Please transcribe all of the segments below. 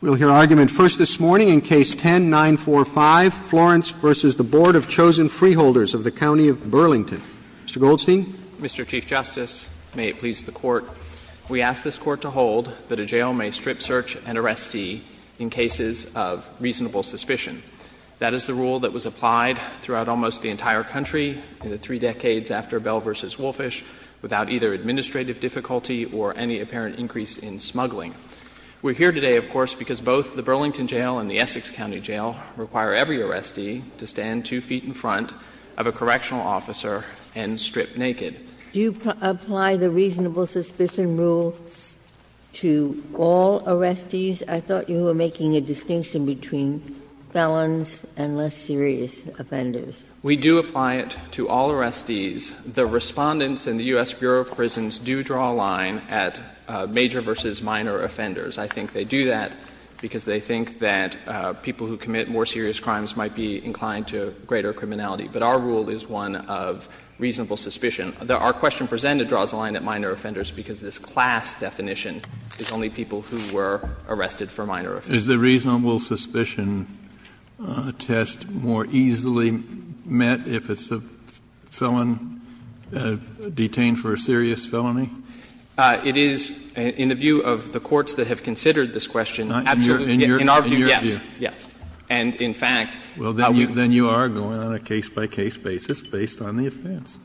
We'll hear argument first this morning in Case 10-945, Florence v. Board of Chosen Freeholders of the County of Burlington. Mr. Goldstein. Mr. Chief Justice, may it please the Court. We ask this Court to hold that a jail may strip search and arrestee in cases of reasonable suspicion. That is the rule that was applied throughout almost the entire country in the three decades after Bell v. Wolfish, without either administrative difficulty or any apparent increase in smuggling. We're here today, of course, because both the Burlington Jail and the Essex County Jail require every arrestee to stand two feet in front of a correctional officer and strip naked. Do you apply the reasonable suspicion rule to all arrestees? I thought you were making a distinction between felons and less serious offenders. We do apply it to all arrestees. The Respondents in the U.S. Bureau of Prisons do draw a line at major versus minor offenders. I think they do that because they think that people who commit more serious crimes might be inclined to greater criminality. But our rule is one of reasonable suspicion. Our question presented draws a line at minor offenders because this class definition is only people who were arrested for minor offenses. Kennedy is the reasonable suspicion test more easily met if it's a felon detained for a serious felony? It is, in the view of the courts that have considered this question, absolutely in our view, yes. In your view? Yes. And in fact, how we've Well, then you are going on a case-by-case basis based on the offense.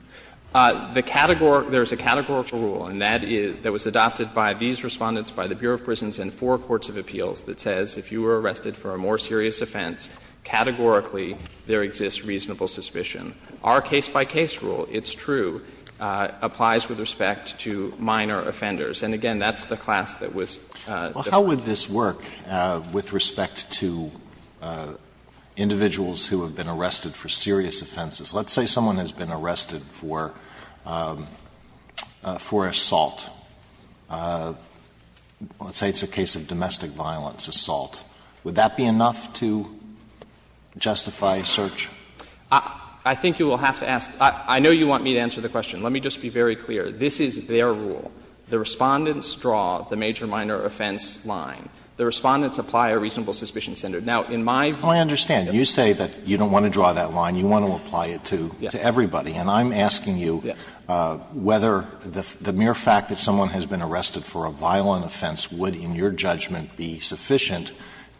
The categorical rule, and that was adopted by these Respondents, by the Bureau of Prisons and four courts of appeals, that says if you were arrested for a more serious offense, categorically there exists reasonable suspicion. Our case-by-case rule, it's true, applies with respect to minor offenders. And again, that's the class that was developed. Well, how would this work with respect to individuals who have been arrested for serious offenses? Let's say someone has been arrested for assault. Let's say it's a case of domestic violence assault. Would that be enough to justify search? I think you will have to ask — I know you want me to answer the question. Let me just be very clear. This is their rule. The Respondents draw the major-minor offense line. The Respondents apply a reasonable suspicion standard. Now, in my view Well, I understand. You say that you don't want to draw that line. You want to apply it to everybody. And I'm asking you whether the mere fact that someone has been arrested for a violent offense would, in your judgment, be sufficient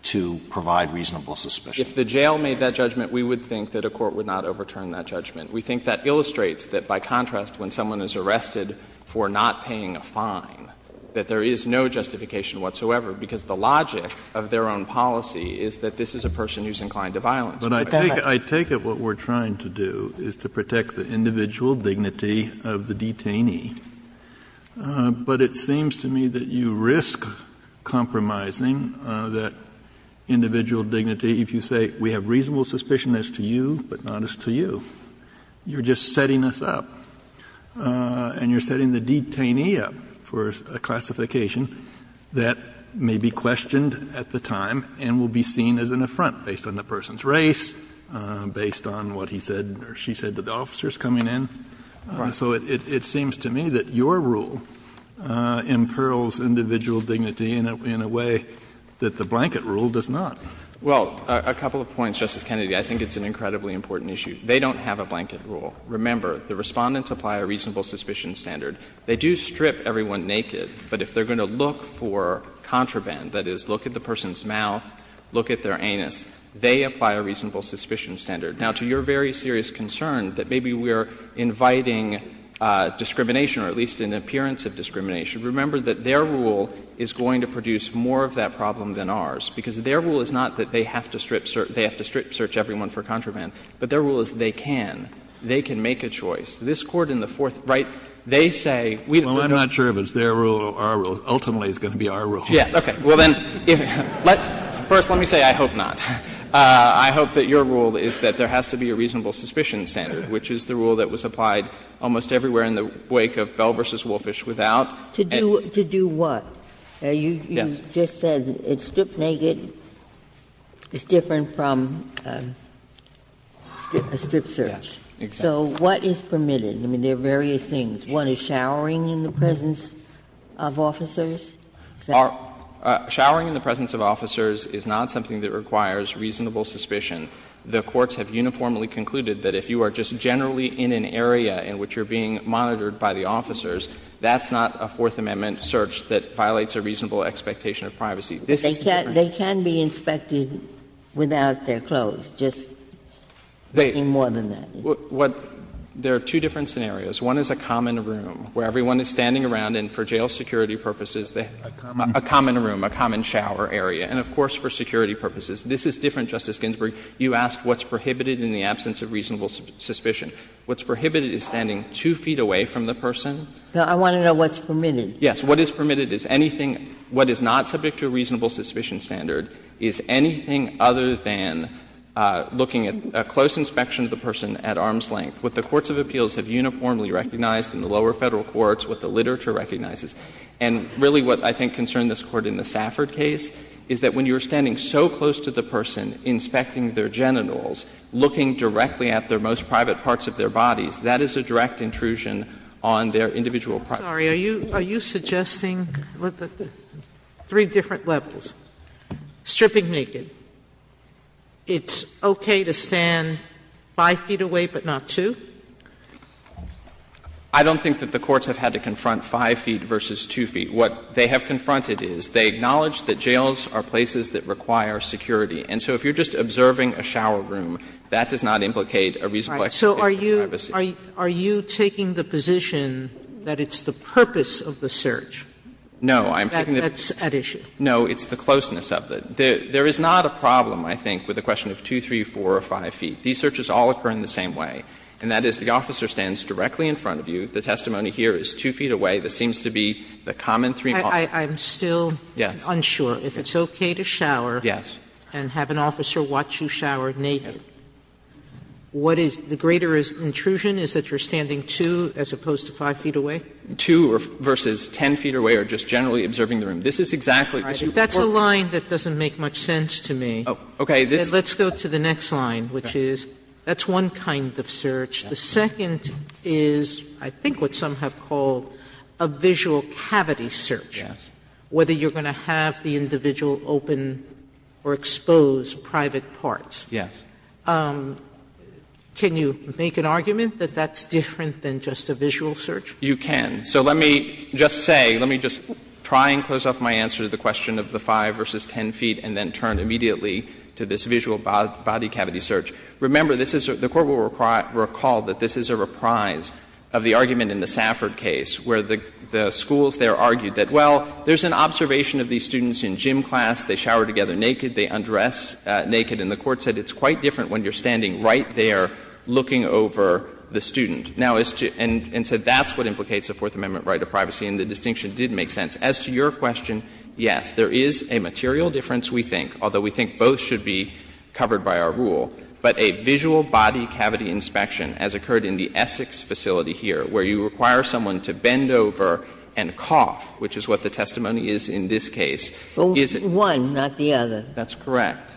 to provide reasonable suspicion. If the jail made that judgment, we would think that a court would not overturn that judgment. We think that illustrates that, by contrast, when someone is arrested for not paying a fine, that there is no justification whatsoever, because the logic of their own policy is that this is a person who is inclined to violence. But I take it what we're trying to do is to protect the individual dignity of the detainee. But it seems to me that you risk compromising that individual dignity if you say, we have reasonable suspicion as to you, but not as to you. You're just setting us up. And you're setting the detainee up for a classification that may be questioned at the time and will be seen as an affront based on the person's race, based on what he said or she said to the officers coming in. So it seems to me that your rule imperils individual dignity in a way that the blanket rule does not. Well, a couple of points, Justice Kennedy. I think it's an incredibly important issue. They don't have a blanket rule. Remember, the Respondents apply a reasonable suspicion standard. They do strip everyone naked, but if they're going to look for contraband, that is, look at the person's mouth, look at their anus, they apply a reasonable suspicion standard. Now, to your very serious concern that maybe we are inviting discrimination or at least an appearance of discrimination, remember that their rule is going to produce more of that problem than ours, because their rule is not that they have to strip search everyone for contraband, but their rule is they can. They can make a choice. This Court in the Fourth, right, they say we don't have to. Well, I'm not sure if it's their rule or our rule. Ultimately, it's going to be our rule. Yes. Okay. Well, then, let me say I hope not. I hope that your rule is that there has to be a reasonable suspicion standard, which is the rule that was applied almost everywhere in the wake of Bell v. Wolfish without. To do what? You just said it's strip naked, it's different from a strip search. Yes, exactly. So what is permitted? I mean, there are various things. One is showering in the presence of officers? Showering in the presence of officers is not something that requires reasonable suspicion. The courts have uniformly concluded that if you are just generally in an area in which you are being monitored by the officers, that's not a Fourth Amendment search that violates a reasonable expectation of privacy. This is different. They can be inspected without their clothes, just any more than that. There are two different scenarios. One is a common room where everyone is standing around and for jail security purposes they have a common room, a common shower area, and of course for security purposes. This is different, Justice Ginsburg. You asked what's prohibited in the absence of reasonable suspicion. What's prohibited is standing 2 feet away from the person. Now, I want to know what's permitted. Yes. What is permitted is anything what is not subject to a reasonable suspicion standard is anything other than looking at a close inspection of the person at arm's length. What the courts of appeals have uniformly recognized in the lower Federal courts, what the literature recognizes. And really what I think concerned this Court in the Safford case is that when you are standing so close to the person inspecting their genitals, looking directly at their most private parts of their bodies, that is a direct intrusion on their individual privacy. Sotomayor, are you suggesting, look at the three different levels, stripping naked, it's okay to stand 5 feet away but not 2? I don't think that the courts have had to confront 5 feet versus 2 feet. What they have confronted is they acknowledge that jails are places that require security. And so if you are just observing a shower room, that does not implicate a reasonable Sotomayor, are you taking the position that it's the purpose of the search that's at issue? No. It's the closeness of it. There is not a problem, I think, with a question of 2, 3, 4, or 5 feet. These searches all occur in the same way, and that is the officer stands directly in front of you. The testimony here is 2 feet away. This seems to be the common 3-part. I'm still unsure if it's okay to shower. Yes. And have an officer watch you shower naked. Yes. What is the greater intrusion is that you are standing 2 as opposed to 5 feet away? 2 versus 10 feet away or just generally observing the room. This is exactly what you would report. All right. If that's a line that doesn't make much sense to me, let's go to the next line, which is that's one kind of search. The second is I think what some have called a visual cavity search, whether you are able to open or expose private parts. Yes. Can you make an argument that that's different than just a visual search? You can. So let me just say, let me just try and close off my answer to the question of the 5 versus 10 feet and then turn immediately to this visual body cavity search. Remember, this is the Court will recall that this is a reprise of the argument in the Safford case where the schools there argued that, well, there's an observation of these students in gym class, they shower together naked, they undress naked, and the Court said it's quite different when you're standing right there looking over the student, and said that's what implicates a Fourth Amendment right of privacy and the distinction did make sense. As to your question, yes, there is a material difference, we think, although we think both should be covered by our rule, but a visual body cavity inspection, as occurred in the Essex facility here, where you require someone to bend over and cough, which is what the testimony is in this case, is it one, not the other. That's correct.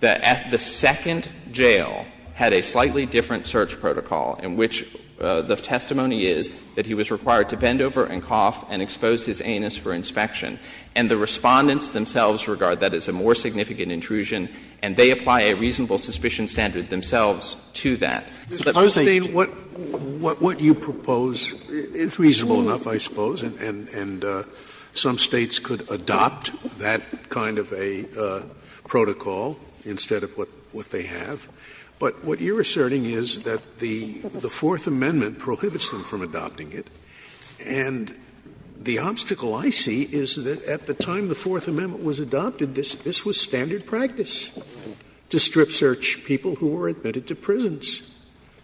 The second jail had a slightly different search protocol in which the testimony is that he was required to bend over and cough and expose his anus for inspection. And the Respondents themselves regard that as a more significant intrusion, and they apply a reasonable suspicion standard themselves to that. Scalia. I understand what you propose is reasonable enough, I suppose, and some States could adopt that kind of a protocol instead of what they have, but what you're asserting is that the Fourth Amendment prohibits them from adopting it. And the obstacle I see is that at the time the Fourth Amendment was adopted, this was standard practice to strip search people who were admitted to prisons.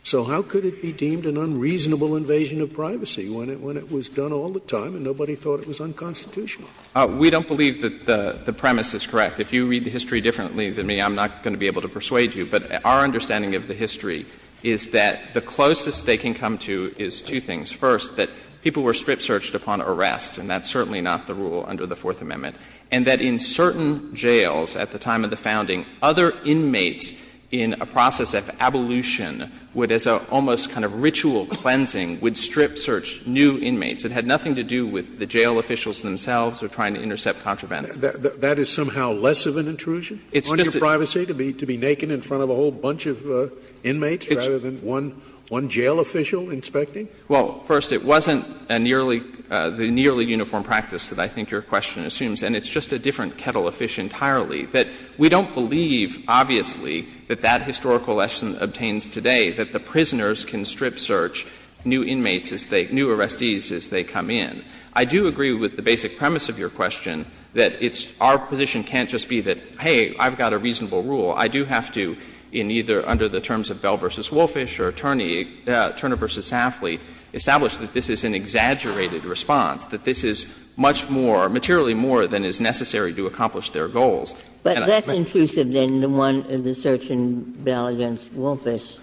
So how could it be deemed an unreasonable invasion of privacy when it was done all the time and nobody thought it was unconstitutional? We don't believe that the premise is correct. If you read the history differently than me, I'm not going to be able to persuade you. But our understanding of the history is that the closest they can come to is two things. First, that people were strip searched upon arrest, and that's certainly not the rule under the Fourth Amendment. And that in certain jails at the time of the founding, other inmates in a process of abolition would, as an almost kind of ritual cleansing, would strip search new inmates. It had nothing to do with the jail officials themselves or trying to intercept contraband. That is somehow less of an intrusion on your privacy, to be naked in front of a whole bunch of inmates rather than one jail official inspecting? Well, first, it wasn't a nearly uniform practice that I think your question assumes. And it's just a different kettle of fish entirely. That we don't believe, obviously, that that historical lesson obtains today, that the prisoners can strip search new inmates as they — new arrestees as they come in. I do agree with the basic premise of your question, that it's — our position can't just be that, hey, I've got a reasonable rule. I do have to, in either under the terms of Bell v. Wolfish or Turner v. Safley, establish that this is an exaggerated response, that this is much more, materially more than is necessary to accomplish their goals. bit more than is necessary to accomplish their goals. But that's intrusive than the one in the search in Bell v. Wolfish,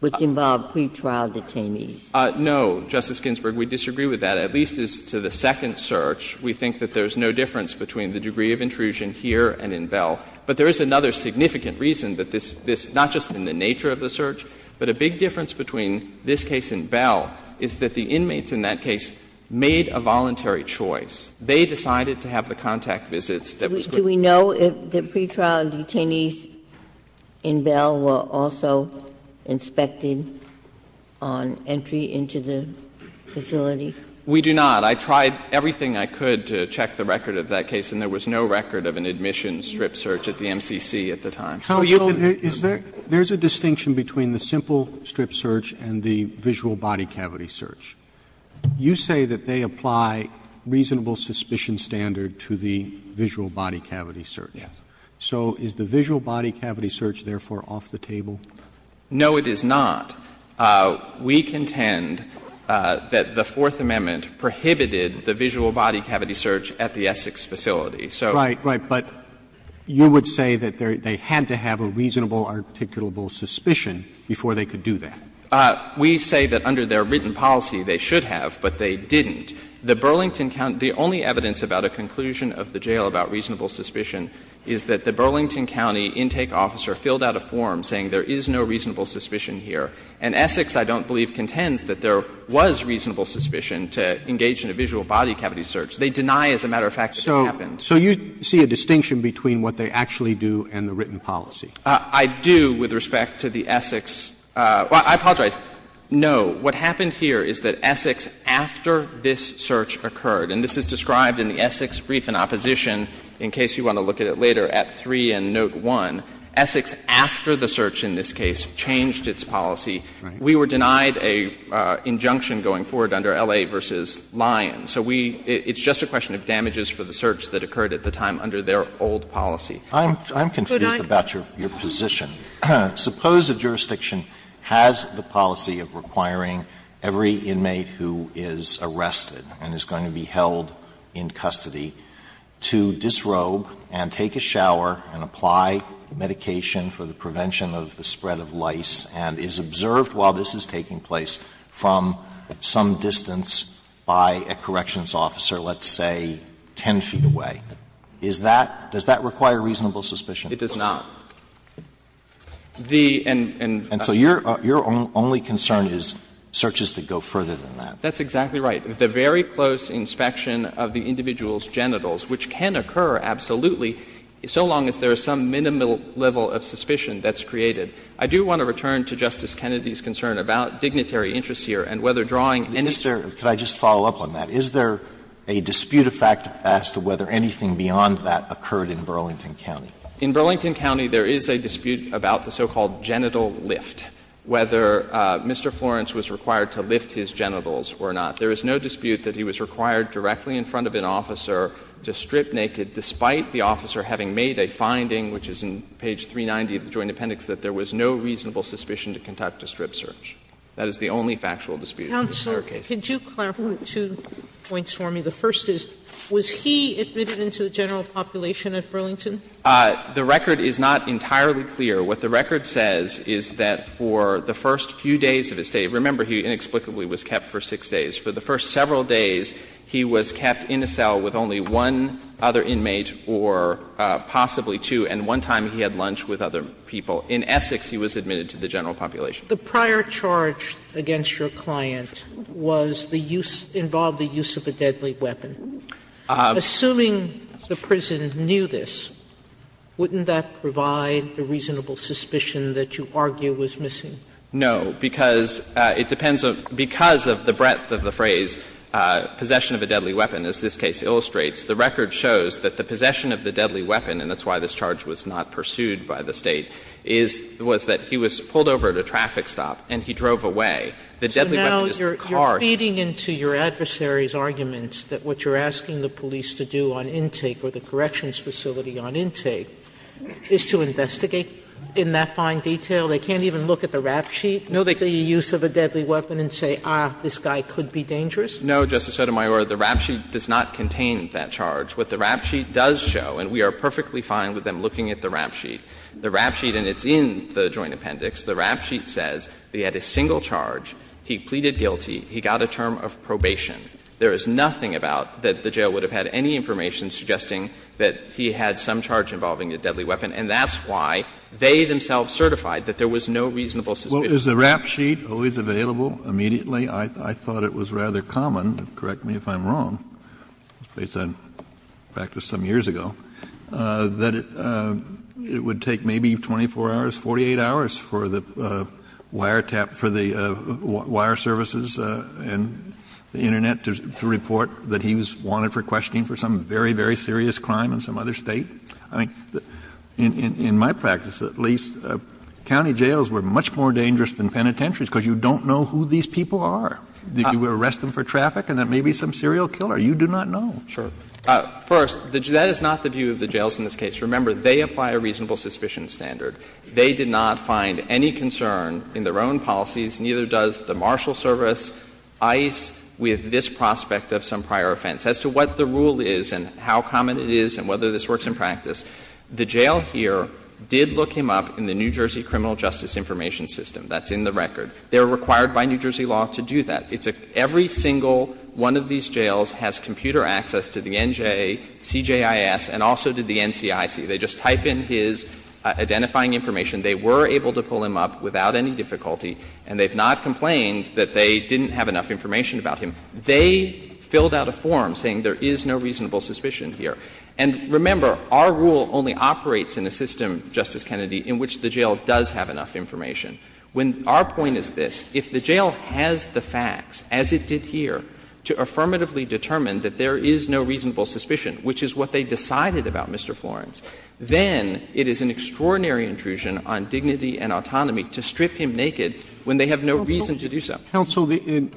which involved pretrial detainees. No, Justice Ginsburg, we disagree with that. At least as to the second search, we think that there's no difference between the degree of intrusion here and in Bell. But there is another significant reason that this — not just in the nature of the search, but a big difference between this case and Bell is that the inmates in that case made a voluntary choice. They decided to have the contact visits that was going to be used. Do we know if the pretrial detainees in Bell were also inspected on entry into the facility? We do not. I tried everything I could to check the record of that case, and there was no record of an admission strip search at the MCC at the time. Counsel, is there — there's a distinction between the simple strip search and the visual body cavity search. You say that they apply reasonable suspicion standard to the visual body cavity search. Yes. So is the visual body cavity search therefore off the table? No, it is not. We contend that the Fourth Amendment prohibited the visual body cavity search at the Essex facility. So — Right, right. But you would say that they had to have a reasonable articulable suspicion before they could do that. We say that under their written policy they should have, but they didn't. The Burlington County — the only evidence about a conclusion of the jail about reasonable suspicion is that the Burlington County intake officer filled out a form saying there is no reasonable suspicion here. And Essex, I don't believe, contends that there was reasonable suspicion to engage in a visual body cavity search. They deny, as a matter of fact, that it happened. So you see a distinction between what they actually do and the written policy? I do with respect to the Essex. Well, I apologize. No. What happened here is that Essex, after this search occurred, and this is described in the Essex brief in opposition, in case you want to look at it later, at 3 and note 1, Essex, after the search in this case, changed its policy. We were denied an injunction going forward under L.A. v. Lyon. So we — it's just a question of damages for the search that occurred at the time under their old policy. I'm confused about your position. Suppose a jurisdiction has the policy of requiring every inmate who is arrested and is going to be held in custody to disrobe and take a shower and apply medication for the prevention of the spread of lice and is observed while this is taking place from some distance by a corrections officer, let's say 10 feet away. Is that — does that require reasonable suspicion? It does not. And so your only concern is searches that go further than that. That's exactly right. The very close inspection of the individual's genitals, which can occur absolutely so long as there is some minimal level of suspicion that's created. I do want to return to Justice Kennedy's concern about dignitary interests here and whether drawing any— Mr. —could I just follow up on that? Is there a dispute of fact as to whether anything beyond that occurred in Burlington County? In Burlington County, there is a dispute about the so-called genital lift, whether Mr. Florence was required to lift his genitals or not. There is no dispute that he was required directly in front of an officer to strip naked, despite the officer having made a finding, which is in page 390 of the Joint Appendix, that there was no reasonable suspicion to conduct a strip search. That is the only factual dispute in the entire case. Sotomayor, could you clarify two points for me? The first is, was he admitted into the general population at Burlington? The record is not entirely clear. What the record says is that for the first few days of his stay, remember he inexplicably was kept for six days. For the first several days, he was kept in a cell with only one other inmate or possibly two, and one time he had lunch with other people. In Essex, he was admitted to the general population. Sotomayor, the prior charge against your client was the use of the deadly weapon. Assuming the prison knew this, wouldn't that provide the reasonable suspicion that you argue was missing? No, because it depends on the breadth of the phrase, possession of a deadly weapon, as this case illustrates. The record shows that the possession of the deadly weapon, and that's why this charge was not pursued by the State, was that he was pulled over at a traffic stop and he drove away. The deadly weapon is the car. Sotomayor, you're feeding into your adversary's arguments that what you're asking the police to do on intake or the corrections facility on intake is to investigate in that fine detail. They can't even look at the rap sheet, the use of a deadly weapon, and say, ah, this guy could be dangerous? No, Justice Sotomayor, the rap sheet does not contain that charge. What the rap sheet does show, and we are perfectly fine with them looking at the rap sheet, the rap sheet, and it's in the Joint Appendix, the rap sheet says he had a single charge, he pleaded guilty, he got a term of probation. There is nothing about that the jail would have had any information suggesting that he had some charge involving a deadly weapon, and that's why they themselves certified that there was no reasonable suspicion. Kennedy, is the rap sheet always available immediately? I thought it was rather common, correct me if I'm wrong, based on practice some years ago, that it would take maybe 24 hours, 48 hours for the wire tap, for the wire services and the Internet to report that he was wanted for questioning for some very, very serious crime in some other State. I mean, in my practice, at least, county jails were much more dangerous than penitentiaries because you don't know who these people are. You arrest them for traffic, and it may be some serial killer. You do not know. First, that is not the view of the jails in this case. Remember, they apply a reasonable suspicion standard. They did not find any concern in their own policies, neither does the Marshal Service, ICE, with this prospect of some prior offense. As to what the rule is and how common it is and whether this works in practice, the jail here did look him up in the New Jersey Criminal Justice Information System. That's in the record. They were required by New Jersey law to do that. It's a — every single one of these jails has computer access to the NJ, CJIS, and also to the NCIC. They just type in his identifying information. They were able to pull him up without any difficulty, and they have not complained that they didn't have enough information about him. They filled out a form saying there is no reasonable suspicion here. And remember, our rule only operates in a system, Justice Kennedy, in which the jail does have enough information. When our point is this, if the jail has the facts, as it did here, to affirmatively determine that there is no reasonable suspicion, which is what they decided about, Mr. Florence, then it is an extraordinary intrusion on dignity and autonomy to strip him naked when they have no reason to do so. Roberts. Roberts.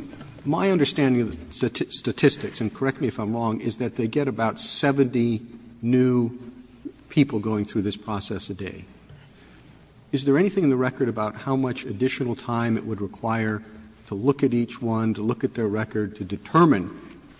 My understanding of the statistics, and correct me if I'm wrong, is that they get about 70 new people going through this process a day. Is there anything in the record about how much additional time it would require to look at each one, to look at their record, to determine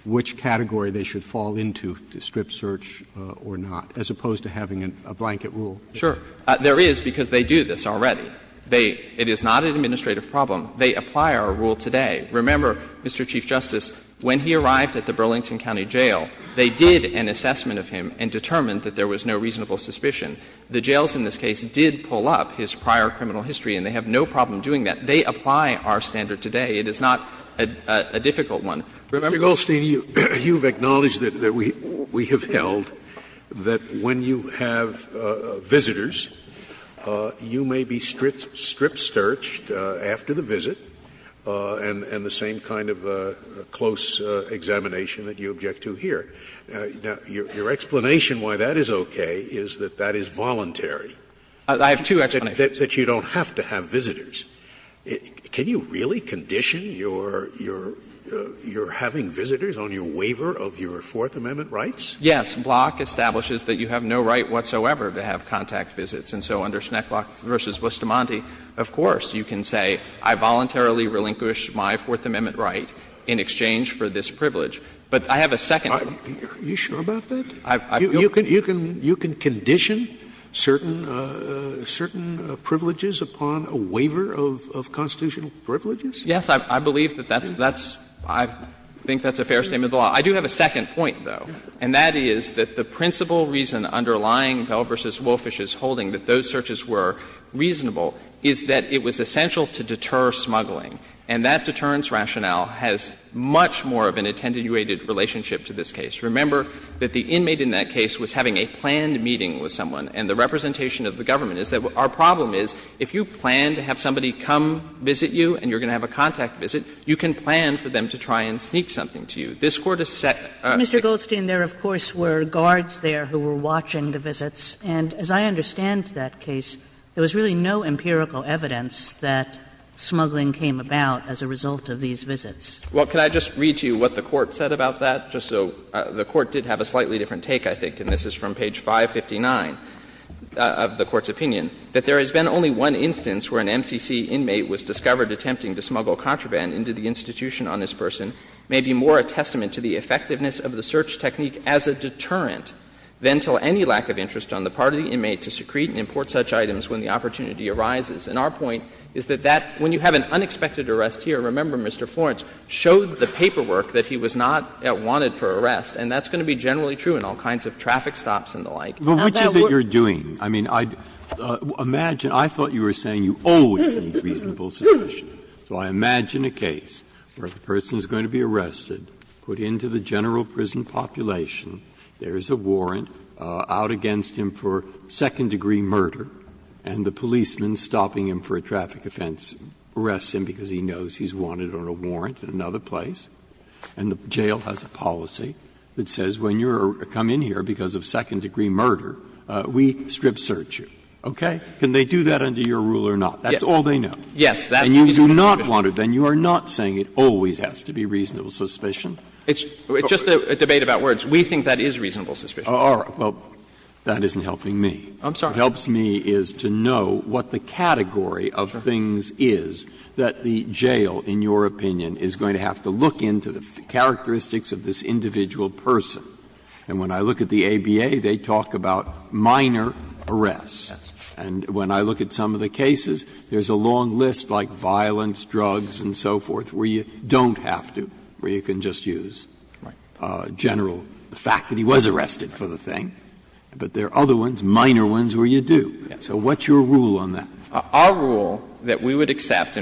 which category they should fall into to strip search or not, as opposed to having a blanket rule? Sure. There is, because they do this already. They — it is not an administrative problem. They apply our rule today. Remember, Mr. Chief Justice, when he arrived at the Burlington County Jail, they did an assessment of him and determined that there was no reasonable suspicion. The jails in this case did pull up his prior criminal history, and they have no problem doing that. They apply our standard today. It is not a difficult one. Remember? Mr. Goldstein, you have acknowledged that we have held that when you have visitors, you may be strip searched after the visit and the same kind of close examination that you object to here. Now, your explanation why that is okay is that that is voluntary. I have two explanations. That you don't have to have visitors. Can you really condition your having visitors on your waiver of your Fourth Amendment rights? Yes. Block establishes that you have no right whatsoever to have contact visits. And so under Schnecklock v. Bustamante, of course, you can say, I voluntarily relinquish my Fourth Amendment right in exchange for this privilege. But I have a second. Are you sure about that? You can condition certain privileges upon a waiver of constitutional privileges? Yes. I believe that that's — I think that's a fair statement of the law. I do have a second point, though, and that is that the principal reason underlying Bell v. Wolfish's holding that those searches were reasonable is that it was essential to deter smuggling. And that deterrence rationale has much more of an attenuated relationship to this case. Remember that the inmate in that case was having a planned meeting with someone. And the representation of the government is that our problem is if you plan to have somebody come visit you and you're going to have a contact visit, you can plan for them to try and sneak something to you. This Court has set a — Mr. Goldstein, there, of course, were guards there who were watching the visits. And as I understand that case, there was really no empirical evidence that smuggling came about as a result of these visits. Well, could I just read to you what the Court said about that, just so — the Court did have a slightly different take, I think, and this is from page 559 of the Court's opinion. That there has been only one instance where an MCC inmate was discovered attempting to smuggle contraband into the institution on this person may be more a testament to the effectiveness of the search technique as a deterrent than to any lack of interest on the part of the inmate to secrete and import such items when the opportunity arises. And our point is that that, when you have an unexpected arrest here, remember Mr. Florence, showed the paperwork that he was not wanted for arrest, and that's going to be generally true in all kinds of traffic stops and the like. Now, that would be— Breyer, which is it you're doing? I mean, imagine — I thought you were saying you always need reasonable suspicion. So I imagine a case where the person is going to be arrested, put into the general prison population, there is a warrant out against him for second-degree murder, and the policeman stopping him for a traffic offense arrests him because he knows he's wanted on a warrant in another place, and the jail has a policy that says when you come in here because of second-degree murder, we strip search you, okay? Can they do that under your rule or not? That's all they know. Yes. And you do not want it. Then you are not saying it always has to be reasonable suspicion. It's just a debate about words. We think that is reasonable suspicion. All right. Well, that isn't helping me. I'm sorry. What helps me is to know what the category of things is that the jail, in your opinion, is going to have to look into the characteristics of this individual person. And when I look at the ABA, they talk about minor arrests. And when I look at some of the cases, there is a long list like violence, drugs, and so forth, where you don't have to, where you can just use general fact that he was arrested for the thing. But there are other ones, minor ones, where you do. So what's your rule on that? Our rule that we would accept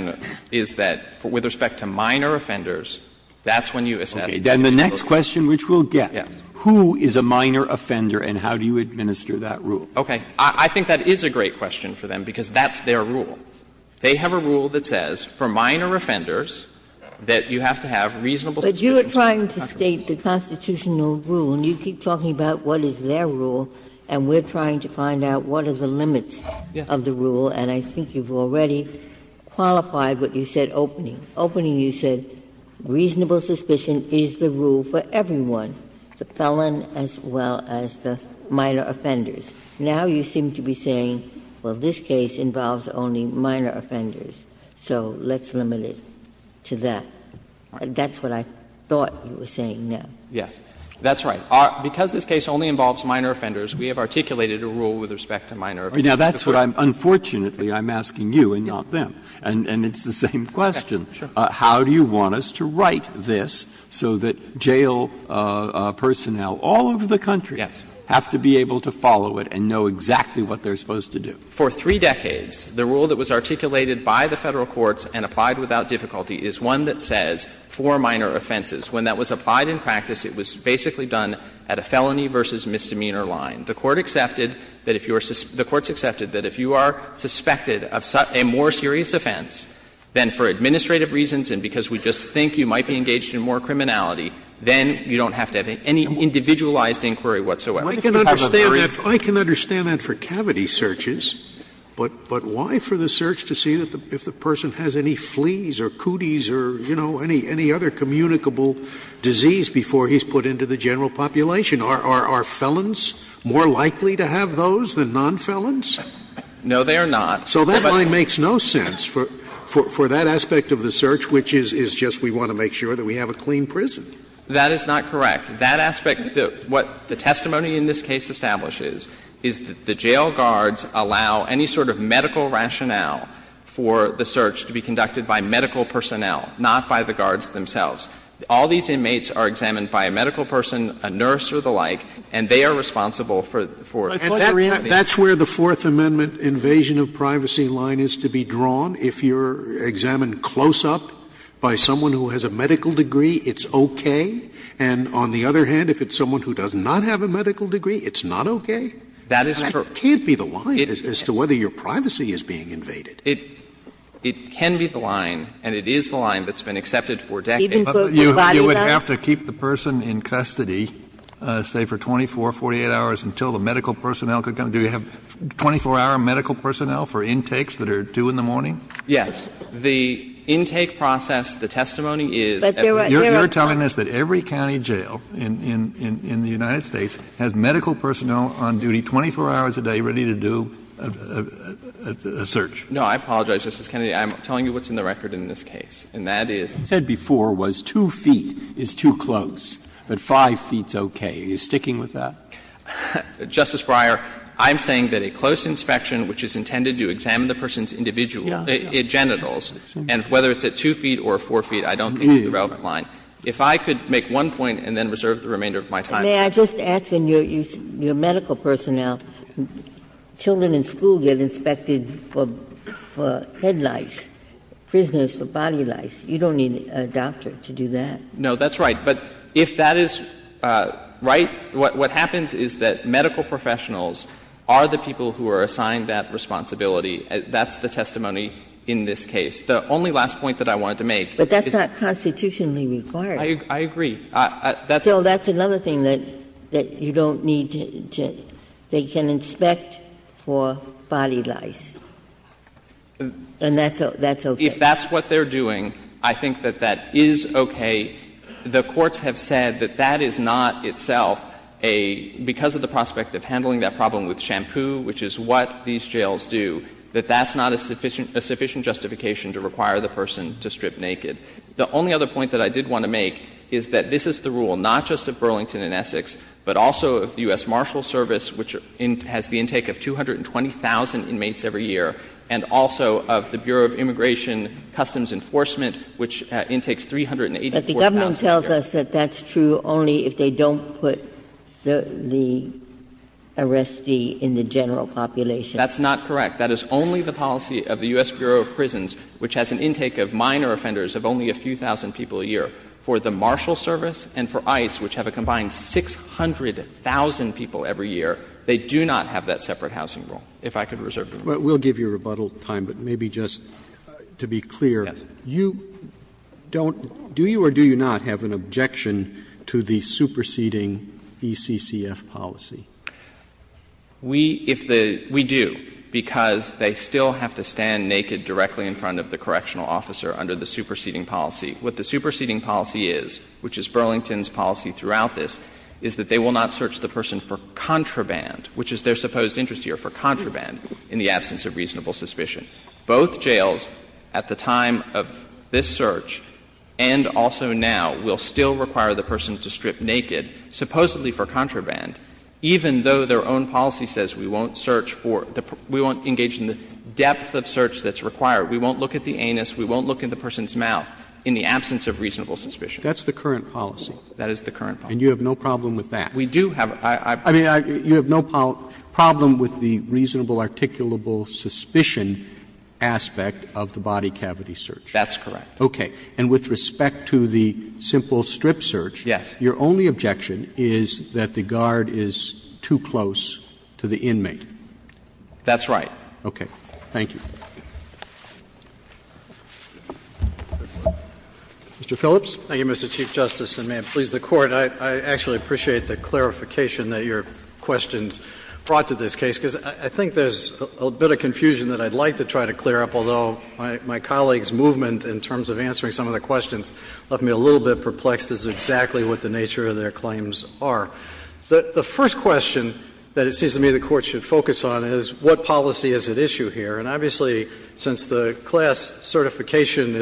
is that with respect to minor offenders, that's when you assess the individual. Okay. Then the next question which we'll get, who is a minor offender and how do you administer that rule? Okay. I think that is a great question for them because that's their rule. They have a rule that says for minor offenders that you have to have reasonable suspicion. But you are trying to state the constitutional rule, and you keep talking about what is their rule, and we're trying to find out what are the limits of the rule. And I think you've already qualified what you said opening. Opening, you said reasonable suspicion is the rule for everyone, the felon as well as the minor offenders. Now you seem to be saying, well, this case involves only minor offenders, so let's limit it to that. That's what I thought you were saying there. Yes. That's right. Because this case only involves minor offenders, we have articulated a rule with respect to minor offenders. Now, that's what I'm unfortunately I'm asking you and not them. And it's the same question. Sure. How do you want us to write this so that jail personnel all over the country have to be able to follow it and know exactly what they're supposed to do? For three decades, the rule that was articulated by the Federal courts and applied without difficulty is one that says four minor offenses. When that was applied in practice, it was basically done at a felony versus misdemeanor line. The Court accepted that if you are the Court's accepted that if you are suspected of a more serious offense, then for administrative reasons and because we just think you might be engaged in more criminality, then you don't have to have any individualized inquiry whatsoever. I can understand that for cavity searches, but why for the search to see if the person has any fleas or cooties or, you know, any other communicable disease before he's put into the general population? Are felons more likely to have those than nonfelons? No, they are not. So that line makes no sense for that aspect of the search, which is just we want to make sure that we have a clean prison. That is not correct. That aspect, what the testimony in this case establishes is that the jail guards allow any sort of medical rationale for the search to be conducted by medical personnel, not by the guards themselves. All these inmates are examined by a medical person, a nurse or the like, and they are responsible for that. Scalia. And that's where the Fourth Amendment invasion of privacy line is to be drawn. If you're examined close up by someone who has a medical degree, it's okay. And on the other hand, if it's someone who does not have a medical degree, it's not okay. That is true. But it can't be the line as to whether your privacy is being invaded. It can be the line, and it is the line that's been accepted for decades. You would have to keep the person in custody, say, for 24, 48 hours, until the medical personnel could come. Do you have 24-hour medical personnel for intakes that are due in the morning? Yes. The intake process, the testimony is that there are not. You're telling us that every county jail in the United States has medical personnel on duty 24 hours a day, ready to do a search? No. I apologize, Justice Kennedy. I'm telling you what's in the record in this case, and that is. What you said before was 2 feet is too close, but 5 feet is okay. Are you sticking with that? Justice Breyer, I'm saying that a close inspection, which is intended to examine the person's individual genitals, and whether it's at 2 feet or 4 feet, I don't think is the relevant line. If I could make one point and then reserve the remainder of my time. May I just ask, in your medical personnel, children in school get inspected for head lice, prisoners for body lice. You don't need a doctor to do that. No, that's right. But if that is right, what happens is that medical professionals are the people who are assigned that responsibility. That's the testimony in this case. The only last point that I wanted to make is that. But that's not constitutionally required. I agree. So that's another thing that you don't need to do. They can inspect for body lice, and that's okay. If that's what they're doing, I think that that is okay. The courts have said that that is not itself a, because of the prospect of handling that problem with shampoo, which is what these jails do, that that's not a sufficient justification to require the person to strip naked. The only other point that I did want to make is that this is the rule not just of Burlington and Essex, but also of the U.S. Marshal Service, which has the intake of 220,000 inmates every year, and also of the Bureau of Immigration Customs Enforcement, which intakes 384,000. Ginsburg. But the government tells us that that's true only if they don't put the arrestee in the general population. That's not correct. That is only the policy of the U.S. Bureau of Prisons, which has an intake of minor offenders of only a few thousand people a year. For the Marshal Service and for ICE, which have a combined 600,000 people every year, they do not have that separate housing rule, if I could reserve the right. Roberts. Roberts. But we'll give you rebuttal time, but maybe just to be clear, you don't do you or do you not have an objection to the superseding ECCF policy? We, if the we do, because they still have to stand naked directly in front of the correctional officer under the superseding policy. What the superseding policy is, which is Burlington's policy throughout this, is that they will not search the person for contraband, which is their supposed interest here, for contraband, in the absence of reasonable suspicion. Both jails at the time of this search and also now will still require the person to strip naked, supposedly for contraband, even though their own policy says we won't search for the we won't engage in the depth of search that's required. We won't look at the anus. We won't look at the person's mouth in the absence of reasonable suspicion. That's the current policy. That is the current policy. And you have no problem with that? We do have. I mean, you have no problem with the reasonable articulable suspicion aspect of the body cavity search? That's correct. Okay. And with respect to the simple strip search? Yes. Your only objection is that the guard is too close to the inmate? That's right. Okay. Thank you. Mr. Phillips. Thank you, Mr. Chief Justice, and may it please the Court, I actually appreciate the clarification that your questions brought to this case, because I think there's a bit of confusion that I'd like to try to clear up, although my colleague's movement in terms of answering some of the questions left me a little bit perplexed as to exactly what the nature of their claims are. The first question that it seems to me the Court should focus on is what policy is at issue here? And obviously, since the class certification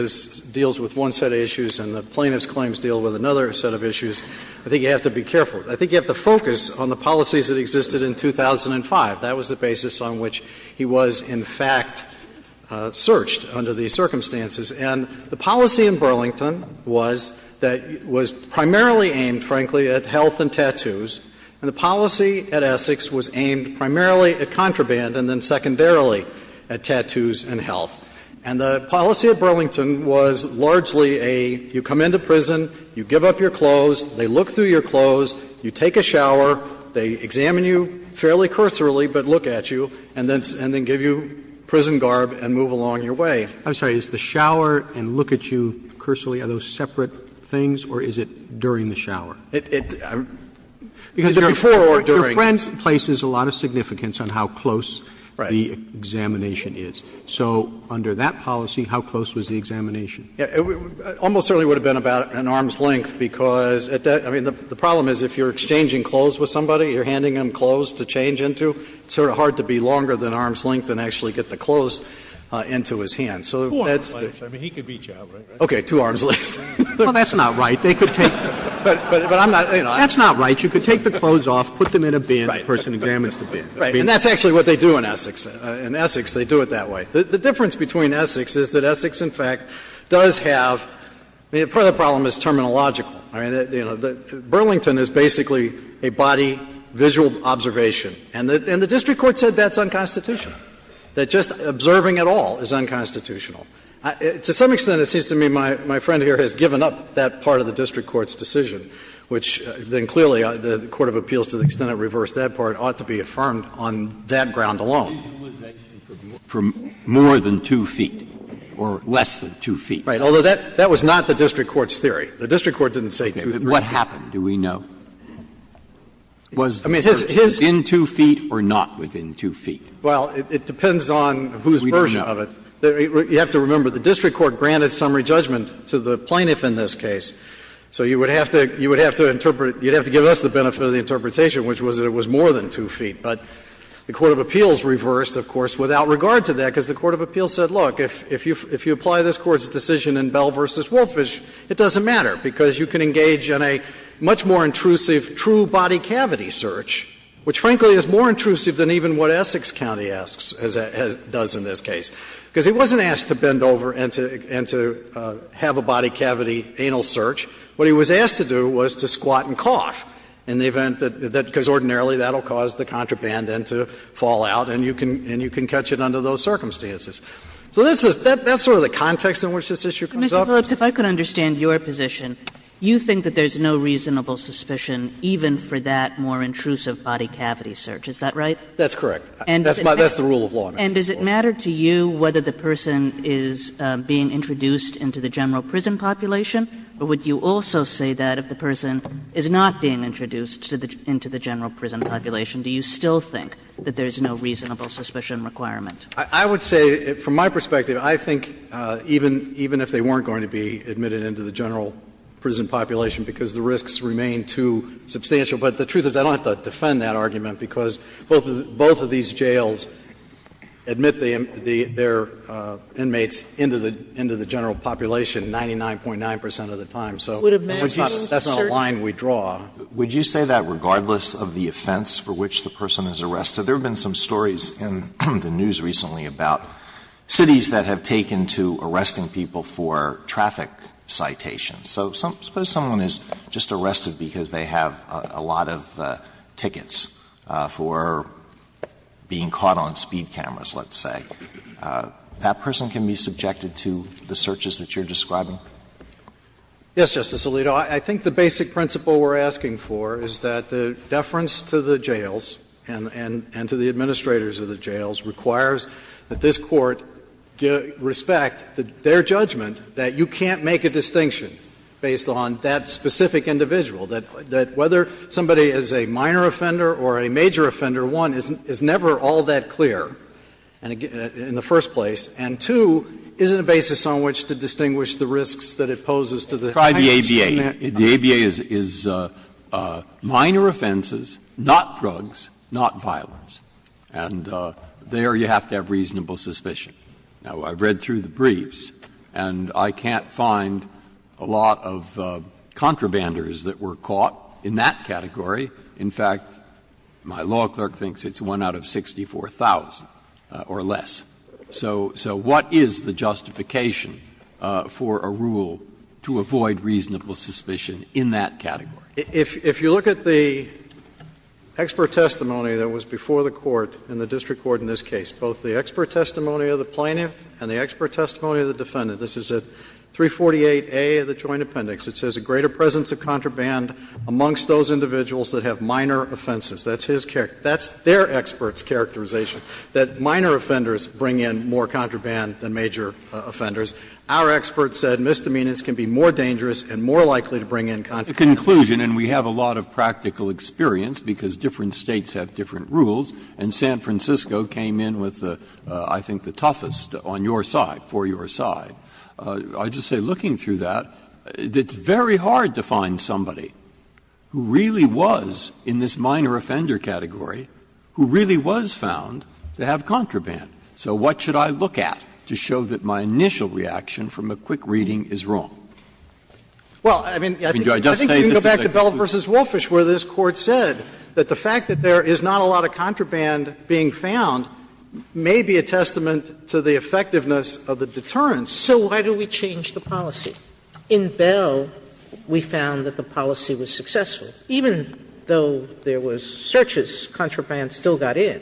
deals with one set of issues and the plaintiff's claims deal with another set of issues, I think you have to be careful. I think you have to focus on the policies that existed in 2005. That was the basis on which he was, in fact, searched under these circumstances. And the policy in Burlington was that it was primarily aimed, frankly, at health and tattoos, and the policy at Essex was aimed primarily at contraband and then secondarily at tattoos and health. And the policy at Burlington was largely a, you come into prison, you give up your clothes, they look through your clothes, you take a shower, they examine you fairly cursorily but look at you, and then give you prison garb and move along your way. Roberts. I'm sorry, is the shower and look at you cursorily, are those separate things, or is it during the shower? It's before or during. Your friend places a lot of significance on how close the examination is. So under that policy, how close was the examination? Almost certainly would have been about an arm's length, because at that — I mean, the problem is if you're exchanging clothes with somebody, you're handing them clothes to change into, it's sort of hard to be longer than arm's length and actually get the clothes into his hands. So that's the — Four arm's lengths. I mean, he could beat you out, right? Okay. Two arm's lengths. Well, that's not right. They could take — But I'm not — That's not right. You could take the clothes off, put them in a bin, and the person examines the bin. Right. And that's actually what they do in Essex. In Essex, they do it that way. The difference between Essex is that Essex, in fact, does have — part of the problem is terminological. I mean, Burlington is basically a body visual observation, and the district court said that's unconstitutional, that just observing at all is unconstitutional. To some extent, it seems to me my friend here has given up that part of the district court's decision, which then clearly the court of appeals, to the extent it reversed that part, ought to be affirmed on that ground alone. For more than 2 feet or less than 2 feet. Right. Although, that was not the district court's theory. The district court didn't say 2 feet. What happened, do we know? I mean, his — Within 2 feet or not within 2 feet? Well, it depends on whose version of it. We don't know. You have to remember, the district court granted summary judgment to the plaintiff in this case. So you would have to — you would have to interpret — you'd have to give us the benefit of the interpretation, which was that it was more than 2 feet. But the court of appeals reversed, of course, without regard to that, because the court of appeals said, look, if you apply this Court's decision in Bell v. Wolfish, it doesn't matter, because you can engage in a much more intrusive true body cavity search, which frankly is more intrusive than even what Essex County asks — does in this case. Because he wasn't asked to bend over and to — and to have a body cavity anal search. What he was asked to do was to squat and cough in the event that — because ordinarily that will cause the contraband then to fall out, and you can — and you can catch it under those circumstances. So this is — that's sort of the context in which this issue comes up. But, Mr. Phillips, if I could understand your position, you think that there's no reasonable suspicion even for that more intrusive body cavity search, is that right? That's correct. That's my — that's the rule of law in this case. And does it matter to you whether the person is being introduced into the general prison population, or would you also say that if the person is not being introduced to the — into the general prison population, do you still think that there's no reasonable suspicion requirement? I would say, from my perspective, I think even — even if they weren't going to be admitted into the general prison population, because the risks remain too substantial. But the truth is, I don't have to defend that argument, because both of — both of these jails admit the — their inmates into the — into the general population 99.9 percent of the time. So that's not a line we draw. Would you say that regardless of the offense for which the person is arrested? There have been some stories in the news recently about cities that have taken to arresting people for traffic citations. So suppose someone is just arrested because they have a lot of tickets for, you know, being caught on speed cameras, let's say. That person can be subjected to the searches that you're describing? Yes, Justice Alito. I think the basic principle we're asking for is that the deference to the jails and — and to the administrators of the jails requires that this Court respect their judgment that you can't make a distinction based on that specific individual, that — that whether somebody is a minor offender or a major offender, one is never all that clear in the first place, and two, isn't a basis on which to distinguish the risks that it poses to the — Try the ABA. The ABA is — is minor offenses, not drugs, not violence. And there you have to have reasonable suspicion. Now, I've read through the briefs, and I can't find a lot of contrabanders that were caught in that category. In fact, my law clerk thinks it's one out of 64,000 or less. So what is the justification for a rule to avoid reasonable suspicion in that category? If you look at the expert testimony that was before the Court in the district court in this case, both the expert testimony of the plaintiff and the expert testimony of the defendant, this is at 348A of the Joint Appendix. It says a greater presence of contraband amongst those individuals that have minor offenses. That's his — that's their expert's characterization, that minor offenders bring in more contraband than major offenders. Our expert said misdemeanors can be more dangerous and more likely to bring in contraband. Breyer. And we have a lot of practical experience, because different States have different rules, and San Francisco came in with, I think, the toughest on your side, for your side. I would just say, looking through that, it's very hard to find somebody who really was in this minor offender category who really was found to have contraband. So what should I look at to show that my initial reaction from a quick reading is wrong? Well, I mean, I think you can go back to Bell v. Wolfish, where this Court said that the fact that there is not a lot of contraband being found may be a testament to the effectiveness of the deterrence. Sotomayor So why do we change the policy? In Bell, we found that the policy was successful. Even though there was searches, contraband still got in.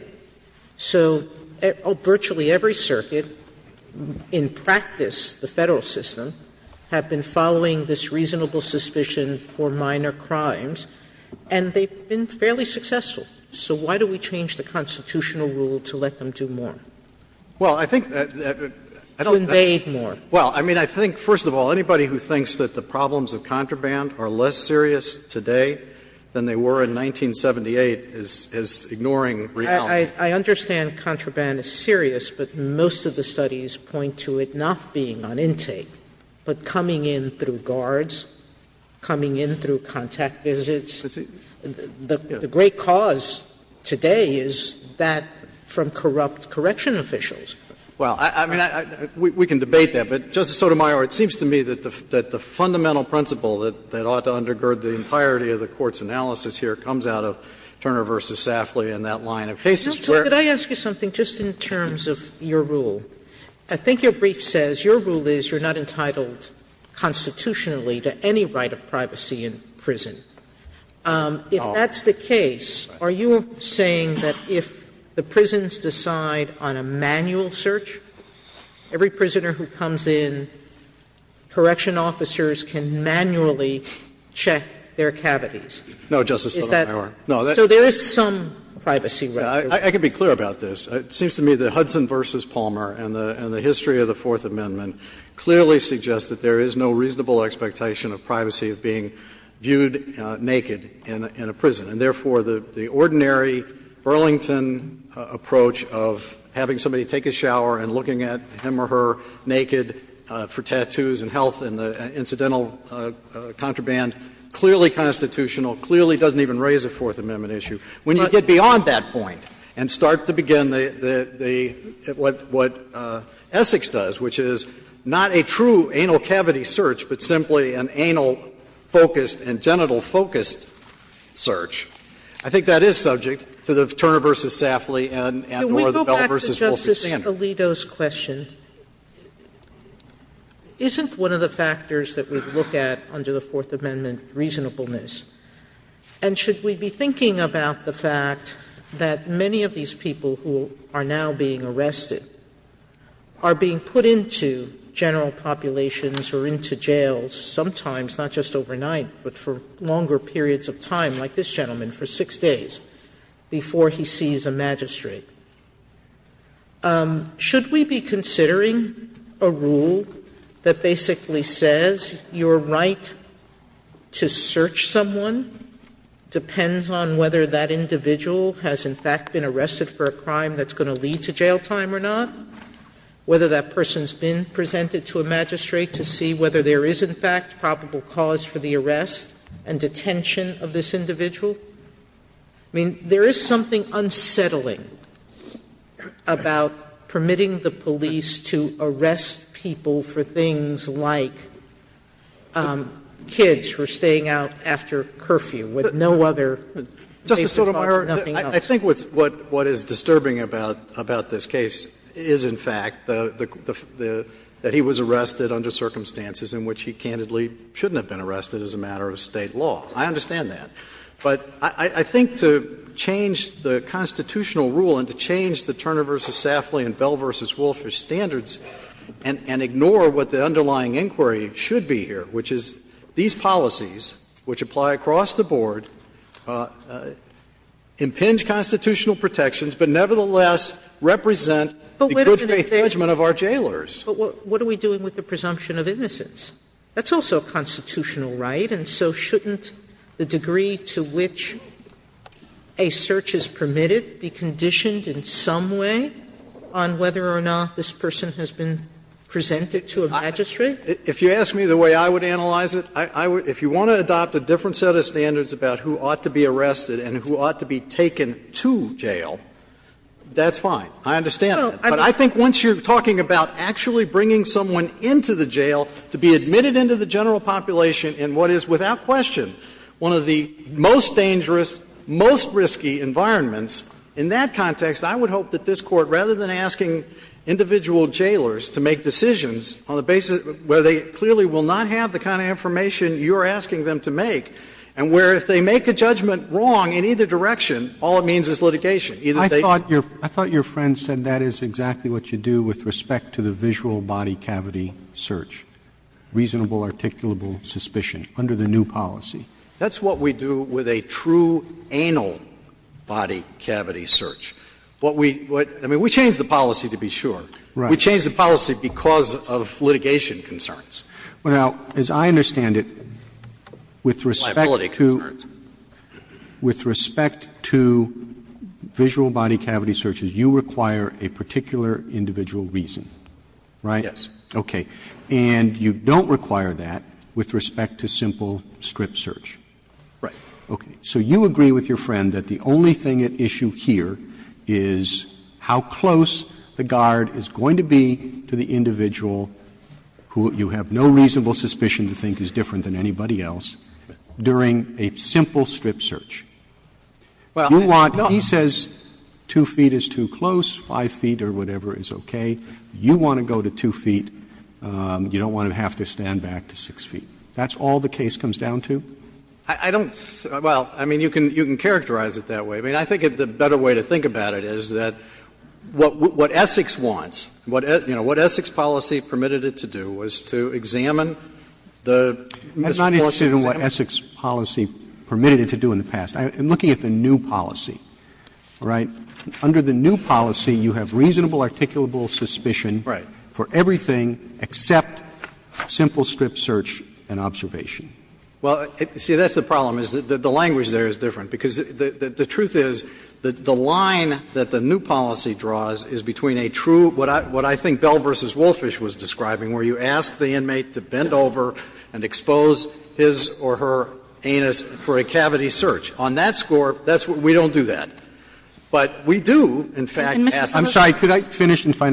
So virtually every circuit, in practice, the Federal system, have been following this reasonable suspicion for minor crimes, and they've been fairly successful. So why do we change the constitutional rule to let them do more? Well, I think that I don't know. Sotomayor To invade more. Well, I mean, I think, first of all, anybody who thinks that the problems of contraband are less serious today than they were in 1978 is ignoring reality. Sotomayor I understand contraband is serious, but most of the studies point to it not being on intake, but coming in through guards, coming in through contact visits. The great cause today is that from corrupt correction officials. Well, I mean, we can debate that, but, Justice Sotomayor, it seems to me that the fundamental principle that ought to undergird the entirety of the Court's analysis here comes out of Turner v. Safley and that line of cases where Sotomayor Could I ask you something just in terms of your rule? I think your brief says your rule is you're not entitled constitutionally to any right of privacy in prison. If that's the case, are you saying that if the prisons decide on a manual search, every prisoner who comes in, correction officers can manually check their cavities? No, Justice Sotomayor. Is that? So there is some privacy right. I can be clear about this. It seems to me that Hudson v. Palmer and the history of the Fourth Amendment clearly suggest that there is no reasonable expectation of privacy being viewed naked in a prison. And therefore, the ordinary Burlington approach of having somebody take a shower and looking at him or her naked for tattoos and health and the incidental contraband, clearly constitutional, clearly doesn't even raise a Fourth Amendment issue. When you get beyond that point and start to begin the what Essex does, which is not a true anal cavity search, but simply an anal-focused and genital-focused search, I think that is subject to the Turner v. Safley and or the Bell v. Wolfie Sotomayor, can we go back to Justice Alito's question? Isn't one of the factors that we look at under the Fourth Amendment reasonableness? And should we be thinking about the fact that many of these people who are now being arrested are being put into general populations or into jails, sometimes not just overnight, but for longer periods of time, like this gentleman, for six days, before he sees a magistrate? Should we be considering a rule that basically says your right to search someone depends on whether that individual has, in fact, been arrested for a crime that's not related to jail time or not, whether that person's been presented to a magistrate to see whether there is, in fact, probable cause for the arrest and detention of this individual? I mean, there is something unsettling about permitting the police to arrest people for things like kids who are staying out after curfew with no other basic right, nothing else. I think what is disturbing about this case is, in fact, that he was arrested under circumstances in which he candidly shouldn't have been arrested as a matter of State law. I understand that. But I think to change the constitutional rule and to change the Turner v. Safley and Bell v. Wolfish standards and ignore what the underlying inquiry should be here, which is these policies, which apply across the board, impinge constitutional protections, but nevertheless represent the good faith judgment of our jailers. But what are we doing with the presumption of innocence? That's also a constitutional right, and so shouldn't the degree to which a search is permitted be conditioned in some way on whether or not this person has been presented to a magistrate? If you ask me the way I would analyze it, if you want to adopt a different set of standards about who ought to be arrested and who ought to be taken to jail, that's fine. I understand that. But I think once you're talking about actually bringing someone into the jail to be admitted into the general population in what is, without question, one of the most dangerous, most risky environments, in that context, I would hope that this Court, rather than asking individual jailers to make decisions on the basis where they clearly will not have the kind of information you're asking them to make, and where if they make a judgment wrong in either direction, all it means is litigation. Either they do it or they don't. Roberts. I thought your friend said that is exactly what you do with respect to the visual body cavity search, reasonable articulable suspicion under the new policy. That's what we do with a true anal body cavity search. What we do, I mean, we change the policy, to be sure. Roberts. We change the policy because of litigation concerns. Roberts. Well, now, as I understand it, with respect to visual body cavity searches, you require a particular individual reason, right? Yes. Okay. And you don't require that with respect to simple strip search. Right. Okay. So you agree with your friend that the only thing at issue here is how close the guard is going to be to the individual who you have no reasonable suspicion to think is different than anybody else during a simple strip search. You want to go to 2 feet, you don't want to have to stand back to 6 feet. That's all the case comes down to? I don't think, well, I mean, you can characterize it that way. I mean, I think the better way to think about it is that what Essex wants, what Essex policy permitted it to do was to examine the misfortune. I'm not interested in what Essex policy permitted it to do in the past. I'm looking at the new policy, all right? Under the new policy, you have reasonable articulable suspicion for everything except simple strip search and observation. Well, see, that's the problem, is that the language there is different, because the truth is that the line that the new policy draws is between a true, what I think Bell v. Wolfish was describing, where you ask the inmate to bend over and expose his or her anus for a cavity search. On that score, that's what we don't do that. But we do, in fact, ask the inmate to bend over and expose his or her anus for a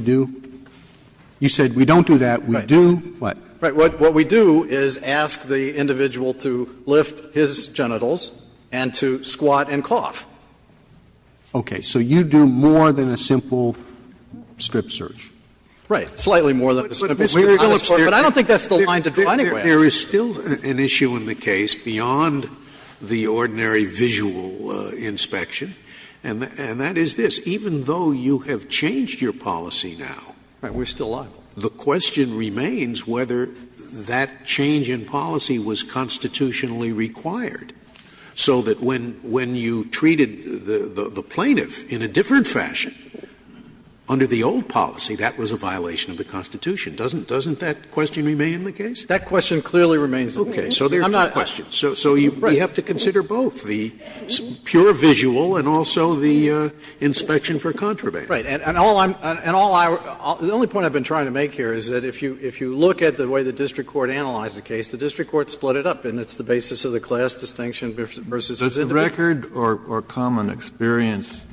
cavity search. We don't ask the individual to lift his genitals and to squat and cough. Okay. So you do more than a simple strip search. Right. Slightly more than a simple strip search. But I don't think that's the line to draw anywhere. There is still an issue in the case beyond the ordinary visual inspection, and that is this. Even though you have changed your policy now, the question remains whether that change in policy was constitutionally required, so that when you treated the plaintiff in a different fashion under the old policy, that was a violation of the Constitution. Doesn't that question remain in the case? That question clearly remains in the case. Okay. So there are two questions. So you have to consider both the pure visual and also the inspection for contraband. Right. And all I'm going to say, the only point I've been trying to make here is that if you look at the way the district court analyzed the case, the district court split it up, and it's the basis of the class distinction versus individual. Does the record or common experience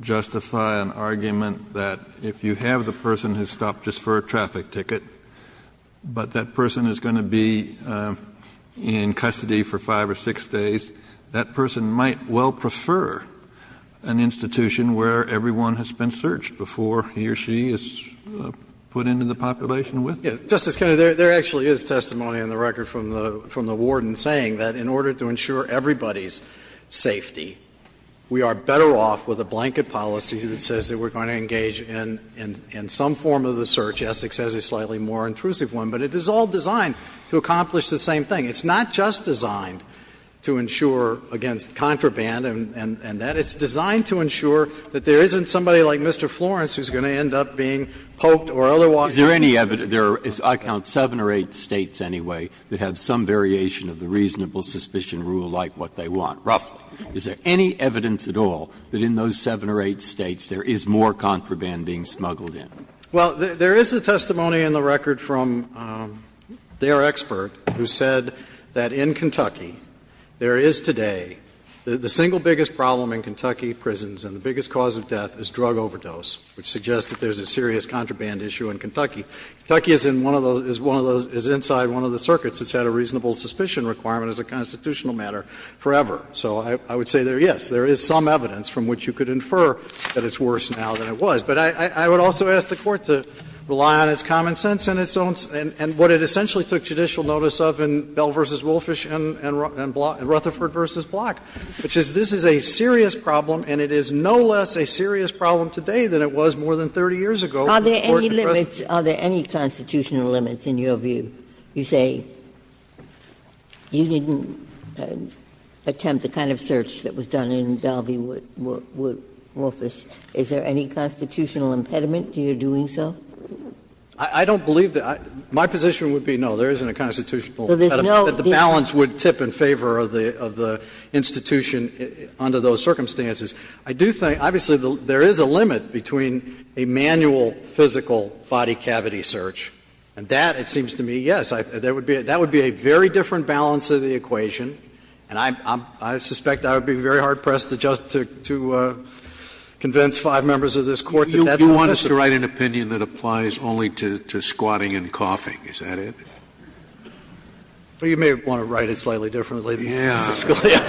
justify an argument that if you have the person who stopped just for a traffic ticket, but that person is going to be in custody for 5 or 6 days, that person might well prefer an institution where everyone has been searched before he or she is put into the population with them? Justice Kennedy, there actually is testimony on the record from the warden saying that in order to ensure everybody's safety, we are better off with a blanket policy that says that we're going to engage in some form of the search. Essex has a slightly more intrusive one. But it is all designed to accomplish the same thing. It's not just designed to ensure against contraband and that. It's designed to ensure that there isn't somebody like Mr. Florence who's going to end up being poked or otherwise. Breyer. Is there any evidence? There are, I count, 7 or 8 States anyway that have some variation of the reasonable suspicion rule like what they want, roughly. Is there any evidence at all that in those 7 or 8 States there is more contraband being smuggled in? Well, there is a testimony in the record from their expert who said that in Kentucky, there is today the single biggest problem in Kentucky prisons and the biggest cause of death is drug overdose, which suggests that there's a serious contraband issue in Kentucky. Kentucky is in one of those, is one of those, is inside one of the circuits. It's had a reasonable suspicion requirement as a constitutional matter forever. So I would say there, yes, there is some evidence from which you could infer that it's worse now than it was. But I would also ask the Court to rely on its common sense and its own, and what it essentially took judicial notice of in Bell v. Wolfish and Rutherford v. Block, which is this is a serious problem and it is no less a serious problem today than it was more than 30 years ago. Are there any limits, are there any constitutional limits in your view? You say you didn't attempt the kind of search that was done in Dalvey Wood, Wolfish. Is there any constitutional impediment to your doing so? I don't believe that. My position would be no, there isn't a constitutional impediment. The balance would tip in favor of the institution under those circumstances. I do think, obviously, there is a limit between a manual physical body cavity search. And that, it seems to me, yes, that would be a very different balance of the equation. And I suspect I would be very hard-pressed to convince five members of this Court that that's the principle. Scalia, would you like to write an opinion that applies only to squatting and coughing? Is that it? Well, you may want to write it slightly differently, Justice Scalia.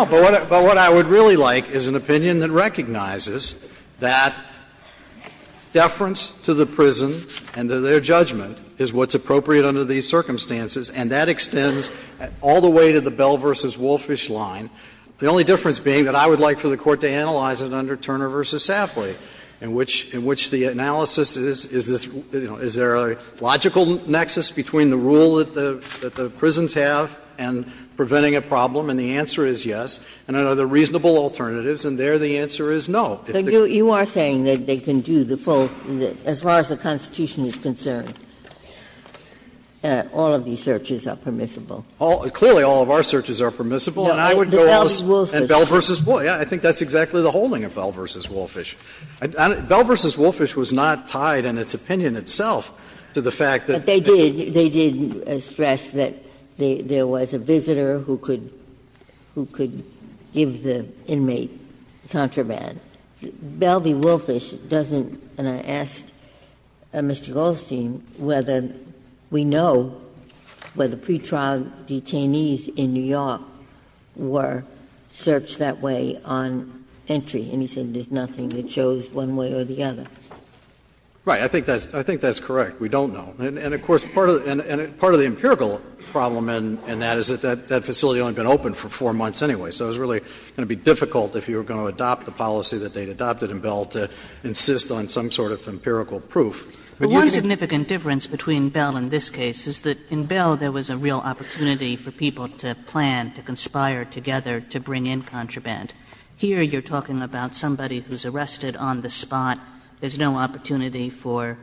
But what I would really like is an opinion that recognizes that deference to the prison and to their judgment is what's appropriate under these circumstances, and that extends all the way to the Bell v. Wolfish line. The only difference being that I would like for the Court to analyze it under Turner v. Safley, in which the analysis is, is this, you know, is there a logical nexus between the rule that the prisons have and preventing a problem, and the answer is yes, and are there reasonable alternatives, and there the answer is no. You are saying that they can do the full, as far as the Constitution is concerned, all of these searches are permissible. Clearly, all of our searches are permissible. And I would go as Bell v. Wolfish. I think that's exactly the holding of Bell v. Wolfish. Bell v. Wolfish was not tied in its opinion itself to the fact that they did. They did stress that there was a visitor who could give the inmate contraband. Bell v. Wolfish doesn't, and I asked Mr. Goldstein whether we know whether pretrial detainees in New York were searched that way on entry, and he said there's nothing that shows one way or the other. Right. I think that's correct. We don't know. And of course, part of the empirical problem in that is that that facility had only been open for 4 months anyway, so it was really going to be difficult if you were going to adopt the policy that they had adopted in Bell to insist on some sort of empirical proof. But you can't Kagan But one significant difference between Bell and this case is that in Bell there was a real opportunity for people to plan, to conspire together to bring in contraband. Here you're talking about somebody who's arrested on the spot. There's no opportunity for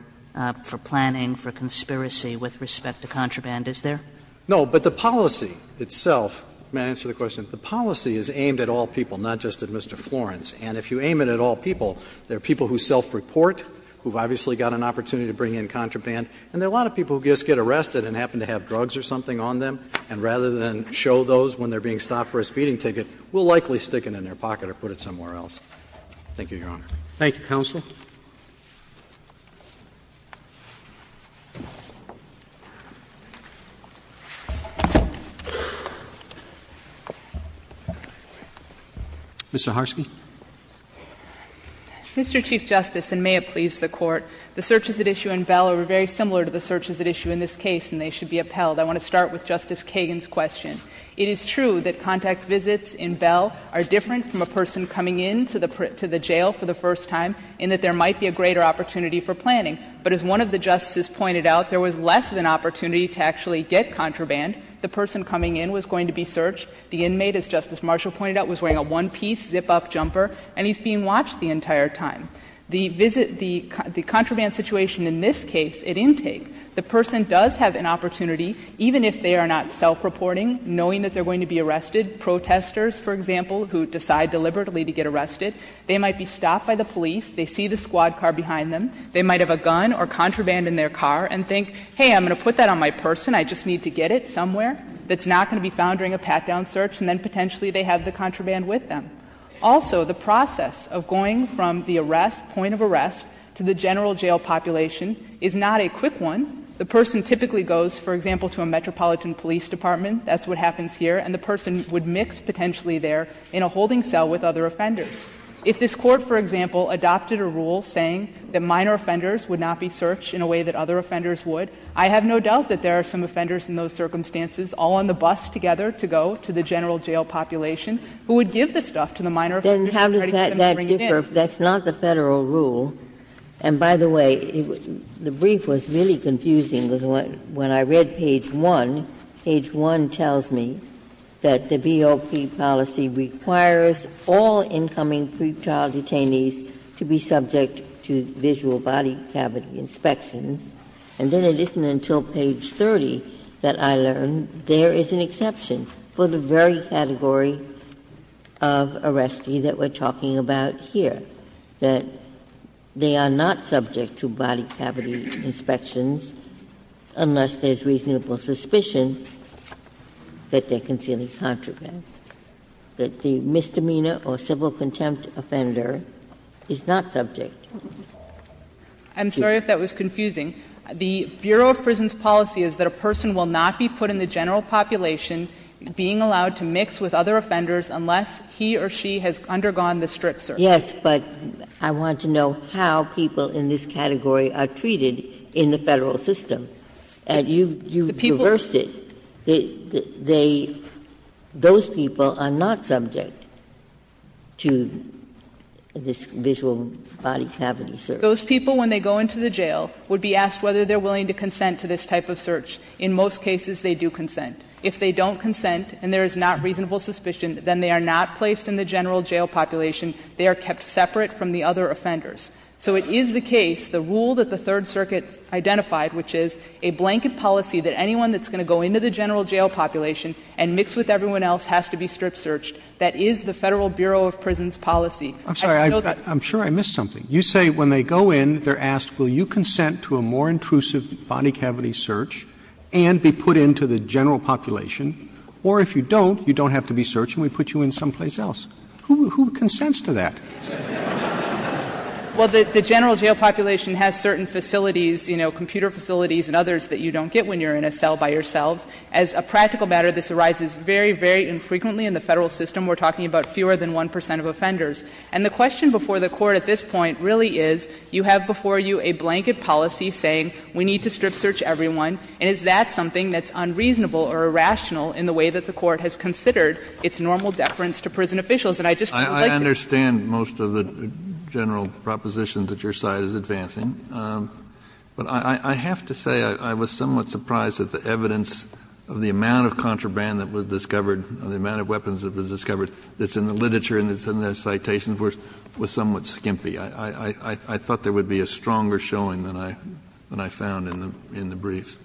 planning, for conspiracy with respect to contraband, is there? No, but the policy itself, may I answer the question? The policy is aimed at all people, not just at Mr. Florence. And if you aim it at all people, there are people who self-report, who've obviously got an opportunity to bring in contraband, and there are a lot of people who just get arrested and happen to have drugs or something on them, and rather than show those when they're being stopped for a speeding ticket, will likely stick it in their pocket or put it somewhere else. Thank you, Your Honor. Thank you, counsel. Ms. Zaharsky. Mr. Chief Justice, and may it please the Court, the searches at issue in Bell are very similar to the searches at issue in this case, and they should be upheld. I want to start with Justice Kagan's question. It is true that contact visits in Bell are different from a person coming into the jail for the first time, in that there might be a greater opportunity for planning. But as one of the justices pointed out, there was less of an opportunity to actually get contraband. The person coming in was going to be searched. The inmate, as Justice Marshall pointed out, was wearing a one-piece zip-up jumper, and he's being watched the entire time. The visit the contraband situation in this case, at intake, the person does have an opportunity, even if they are not self-reporting, knowing that they're going to be arrested. Protesters, for example, who decide deliberately to get arrested, they might be stopped by the police, they see the squad car behind them, they might have a gun or contraband in their car and think, hey, I'm going to put that on my person, I just need to get it somewhere, that's not going to be found during a pat-down search, and then potentially they have the contraband with them. Also, the process of going from the arrest, point of arrest, to the general jail population is not a quick one. The person typically goes, for example, to a metropolitan police department, that's what happens here, and the person would mix potentially there in a holding cell with other offenders. If this Court, for example, adopted a rule saying that minor offenders would not be searched in a way that other offenders would, I have no doubt that there are some offenders in those circumstances all on the bus together to go to the general jail population who would give the stuff to the minor offenders in order to get them to bring it in. Ginsburg-Miller, then how does that differ if that's not the Federal rule? And, by the way, the brief was really confusing, because when I read page 1, page 1 tells me that the BOP policy requires all incoming pretrial detainees to be subject to visual body cavity inspections. And then it isn't until page 30 that I learned there is an exception for the very category of arrestee that we're talking about here, that they are not subject to body cavity inspections unless there's reasonable suspicion that they're concealing contraband, that the misdemeanor or civil contempt offender is not subject. I'm sorry if that was confusing. The Bureau of Prisons policy is that a person will not be put in the general population being allowed to mix with other offenders unless he or she has undergone the strip search. Ginsburg-Miller, but I want to know how people in this category are treated in the Federal system, and you reversed it. They, they, those people are not subject to this visual body cavity search. Those people, when they go into the jail, would be asked whether they're willing to consent to this type of search. In most cases, they do consent. If they don't consent and there is not reasonable suspicion, then they are not placed in the general jail population. They are kept separate from the other offenders. So it is the case, the rule that the Third Circuit identified, which is a blanket policy, that anyone that's going to go into the general jail population and mix with everyone else has to be strip searched. That is the Federal Bureau of Prisons policy. I just know that. Roberts, I'm sorry, I'm sure I missed something. You say when they go in, they're asked, will you consent to a more intrusive body cavity search and be put into the general population, or if you don't, you don't have to be searched and we put you in someplace else. Who, who consents to that? Well, the, the general jail population has certain facilities, you know, computer facilities and others that you don't get when you're in a cell by yourselves. As a practical matter, this arises very, very infrequently in the Federal system. We're talking about fewer than 1 percent of offenders. And the question before the Court at this point really is, you have before you a blanket policy saying we need to strip search everyone, and is that something that's unreasonable or irrational in the way that the Court has considered its normal deference to prison And I just would like to say to you, Justice Sotomayor, I understand most of the general proposition that your side is advancing, but I, I have to say I, I was somewhat surprised at the evidence of the amount of contraband that was discovered, the amount of weapons that were discovered that's in the literature and that's in the citations were, was somewhat skimpy. I, I, I thought there would be a stronger showing than I, than I found in the, in the briefs.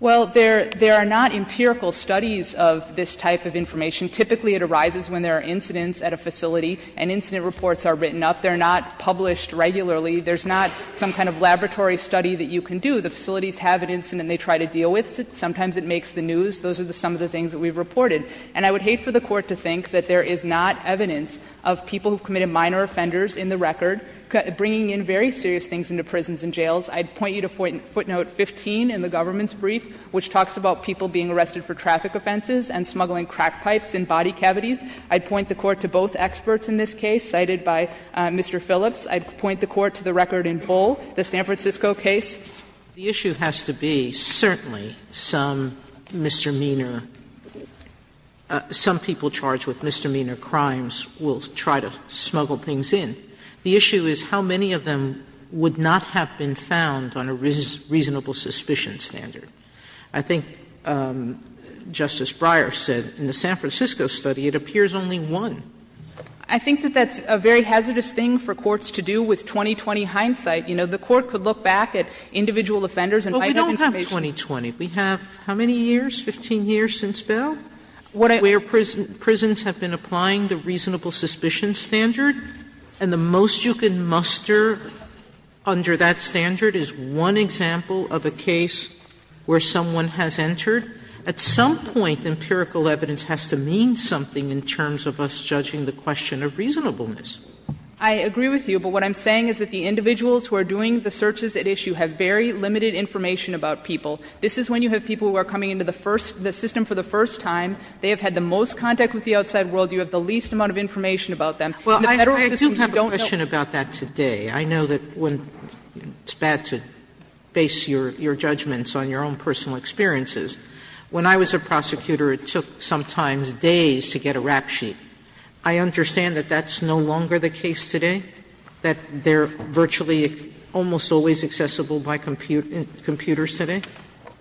Well, there, there are not empirical studies of this type of information. Typically, it arises when there are incidents at a facility and incident reports are written up. They're not published regularly. There's not some kind of laboratory study that you can do. The facilities have an incident they try to deal with. Sometimes it makes the news. Those are the, some of the things that we've reported. And I would hate for the Court to think that there is not evidence of people who've committed minor offenders in the record bringing in very serious things into prisons and jails. I'd point you to footnote 15 in the government's brief, which talks about people being arrested for traffic offenses and smuggling crack pipes in body cavities. I'd point the Court to both experts in this case cited by Mr. Phillips. I'd point the Court to the record in full, the San Francisco case. Sotomayor The issue has to be certainly some misdemeanor, some people charged with misdemeanor crimes will try to smuggle things in. The issue is how many of them would not have been found on a reasonable suspicion standard. I think Justice Breyer said in the San Francisco study it appears only one. I think that that's a very hazardous thing for courts to do with 20-20 hindsight. You know, the Court could look back at individual offenders and find that information. Sotomayor But we don't have 20-20. We have how many years, 15 years since Bell? Where prisons have been applying the reasonable suspicion standard, and the most you can muster under that standard is one example of a case where someone has entered. At some point, empirical evidence has to mean something in terms of us judging the question of reasonableness. I agree with you, but what I'm saying is that the individuals who are doing the searches at issue have very limited information about people. This is when you have people who are coming into the first the system for the first time. They have had the most contact with the outside world. You have the least amount of information about them. In the Federal system, you don't know. But I have a question about that today. I know that it's bad to base your judgments on your own personal experiences. When I was a prosecutor, it took sometimes days to get a rap sheet. I understand that that's no longer the case today, that they're virtually almost always accessible by computers today?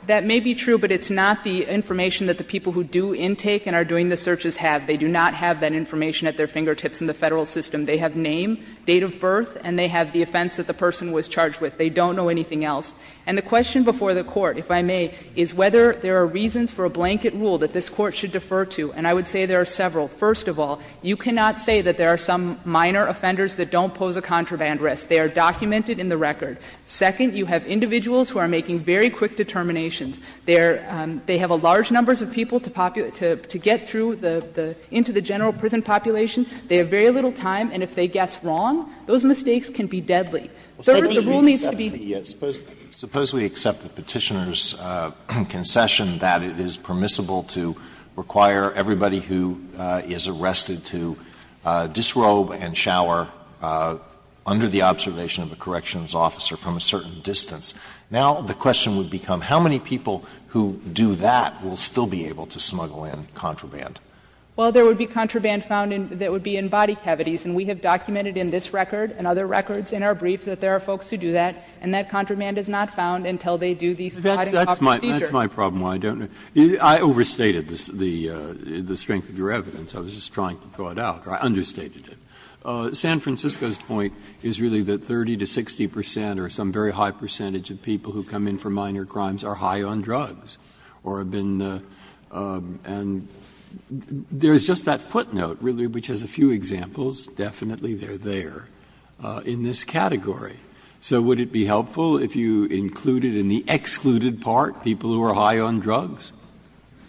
That may be true, but it's not the information that the people who do intake and are doing the searches have. They do not have that information at their fingertips in the Federal system. They have name, date of birth, and they have the offense that the person was charged with. They don't know anything else. And the question before the Court, if I may, is whether there are reasons for a blanket rule that this Court should defer to. And I would say there are several. First of all, you cannot say that there are some minor offenders that don't pose a contraband risk. They are documented in the record. Second, you have individuals who are making very quick determinations. They have a large number of people to get through into the general prison population. They have very little time, and if they guess wrong, those mistakes can be deadly. So the rule needs to be deferred. Alito, suppose we accept the Petitioner's concession that it is permissible to require everybody who is arrested to disrobe and shower under the observation of a corrections officer from a certain distance. Now the question would become, how many people who do that will still be able to smuggle in contraband? Saharsky. Well, there would be contraband found that would be in body cavities, and we have documented in this record and other records in our brief that there are folks who do that, and that contraband is not found until they do the sliding copper feature. Breyer. That's my problem, why I don't know. I overstated the strength of your evidence. I was just trying to throw it out. I understated it. San Francisco's point is really that 30 to 60 percent or some very high percentage of people who come in for minor crimes are high on drugs or have been the – and there is just that footnote really which has a few examples, definitely they are there, in this category. So would it be helpful if you included in the excluded part people who are high on drugs?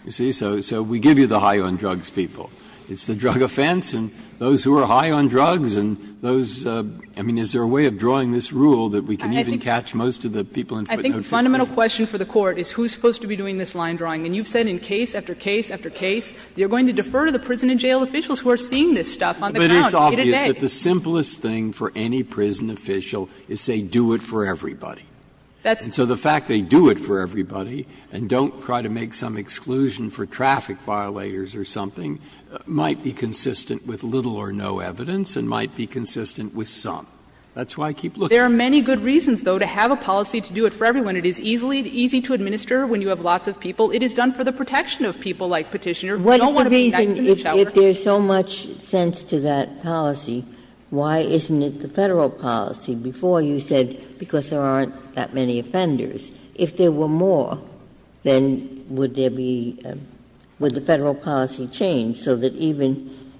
You see, so we give you the high on drugs people. It's the drug offense and those who are high on drugs and those – I mean, is there a way of drawing this rule that we can even catch most of the people in footnotes who do that? I think the fundamental question for the Court is who is supposed to be doing this line drawing. And you've said in case after case after case, you're going to defer to the prison and jail officials who are seeing this stuff on the count day to day. Breyer. But it's obvious that the simplest thing for any prison official is say do it for everybody. And so the fact they do it for everybody and don't try to make some exclusion for traffic violators or something might be consistent with little or no evidence and might be consistent with some. That's why I keep looking. There are many good reasons, though, to have a policy to do it for everyone. It is easy to administer when you have lots of people. It is done for the protection of people, like Petitioner. We don't want to be nice to each other. If there's so much sense to that policy, why isn't it the Federal policy? Before, you said because there aren't that many offenders. If there were more, then would there be – would the Federal policy change so that even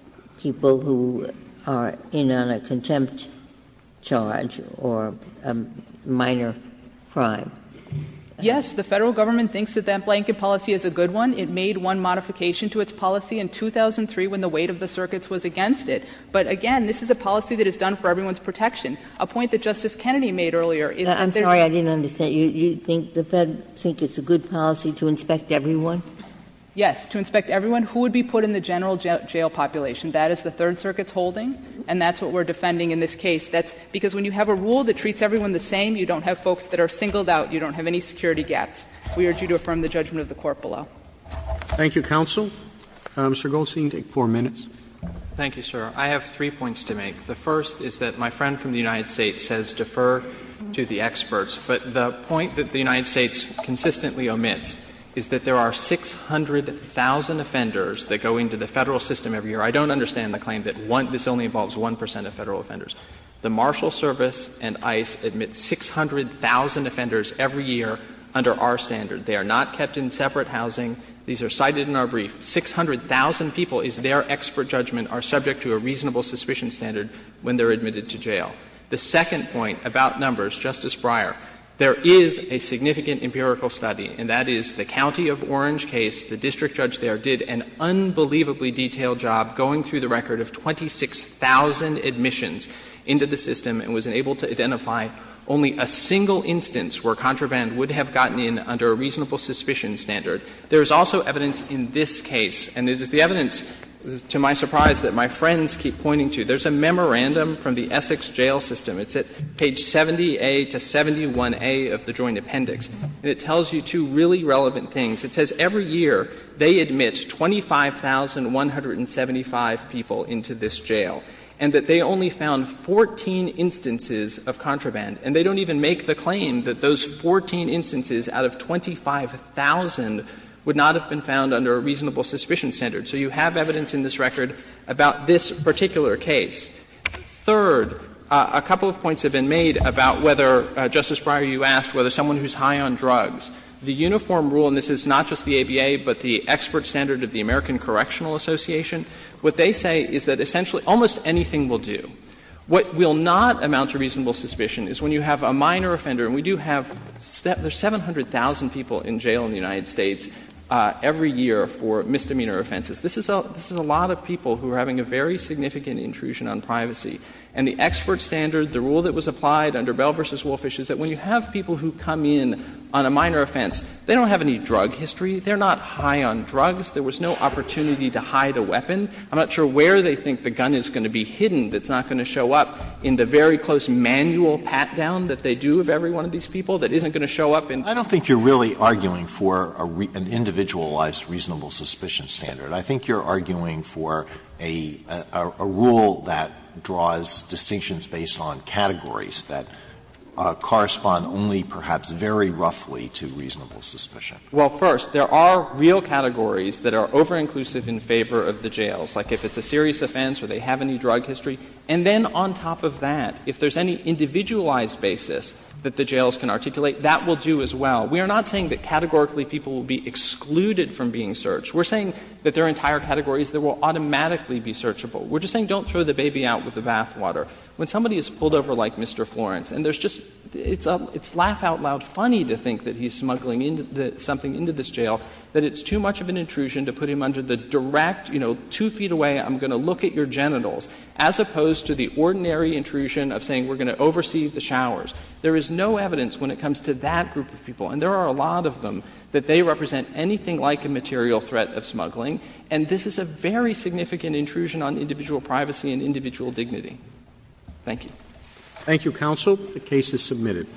people who are in on a contempt charge or a minor crime? Yes. The Federal government thinks that that blanket policy is a good one. It made one modification to its policy in 2003 when the weight of the circuits was against it. But, again, this is a policy that is done for everyone's protection. A point that Justice Kennedy made earlier is that there's no – I'm sorry, I didn't understand. You think the Fed thinks it's a good policy to inspect everyone? Yes, to inspect everyone who would be put in the general jail population. That is the Third Circuit's holding, and that's what we're defending in this case. That's because when you have a rule that treats everyone the same, you don't have folks that are singled out, you don't have any security gaps. We urge you to affirm the judgment of the Court below. Thank you, counsel. Mr. Goldstein, you take 4 minutes. Thank you, sir. I have three points to make. The first is that my friend from the United States says defer to the experts. But the point that the United States consistently omits is that there are 600,000 offenders that go into the Federal system every year. I don't understand the claim that this only involves 1 percent of Federal offenders. The Marshal Service and ICE admit 600,000 offenders every year under our standard. They are not kept in separate housing. These are cited in our brief. 600,000 people, is their expert judgment, are subject to a reasonable suspicion standard when they're admitted to jail. The second point about numbers, Justice Breyer, there is a significant empirical study, and that is the County of Orange case. The district judge there did an unbelievably detailed job going through the record of 26,000 admissions into the system and was able to identify only a single instance where contraband would have gotten in under a reasonable suspicion standard. There is also evidence in this case, and it is the evidence, to my surprise, that my friends keep pointing to. There's a memorandum from the Essex jail system. It's at page 70A to 71A of the Joint Appendix. And it tells you two really relevant things. It says every year they admit 25,175 people into this jail, and that they only found 14 instances of contraband. And they don't even make the claim that those 14 instances out of 25,000 would not have been found under a reasonable suspicion standard. So you have evidence in this record about this particular case. Third, a couple of points have been made about whether, Justice Breyer, you asked whether someone who is high on drugs. The uniform rule, and this is not just the ABA, but the expert standard of the American Correctional Association, what they say is that essentially almost anything will do. What will not amount to reasonable suspicion is when you have a minor offender and we do have 700,000 people in jail in the United States every year for misdemeanor offenses. This is a lot of people who are having a very significant intrusion on privacy. And the expert standard, the rule that was applied under Bell v. Wolfish is that when you have people who come in on a minor offense, they don't have any drug history. They are not high on drugs. There was no opportunity to hide a weapon. I'm not sure where they think the gun is going to be hidden that's not going to show up in the very close manual pat-down that they do of every one of these people that isn't going to show up in. Alito I don't think you are really arguing for an individualized reasonable suspicion standard. I think you are arguing for a rule that draws distinctions based on categories that correspond only perhaps very roughly to reasonable suspicion. Goldstein Well, first, there are real categories that are over-inclusive in favor of the jails, like if it's a serious offense or they have any drug history. And then on top of that, if there's any individualized basis that the jails can articulate, that will do as well. We are not saying that categorically people will be excluded from being searched. We are saying that there are entire categories that will automatically be searchable. We are just saying don't throw the baby out with the bathwater. When somebody is pulled over like Mr. Florence, and there's just — it's laugh-out-loud funny to think that he's smuggling something into this jail, that it's too much of an intrusion to put him under the direct, you know, two feet away, I'm going to look at your genitals, as opposed to the ordinary intrusion of saying we're going to oversee the showers. There is no evidence when it comes to that group of people, and there are a lot of them, that they represent anything like a material threat of smuggling. And this is a very significant intrusion on individual privacy and individual dignity. Thank you. Thank you, counsel. The case is submitted.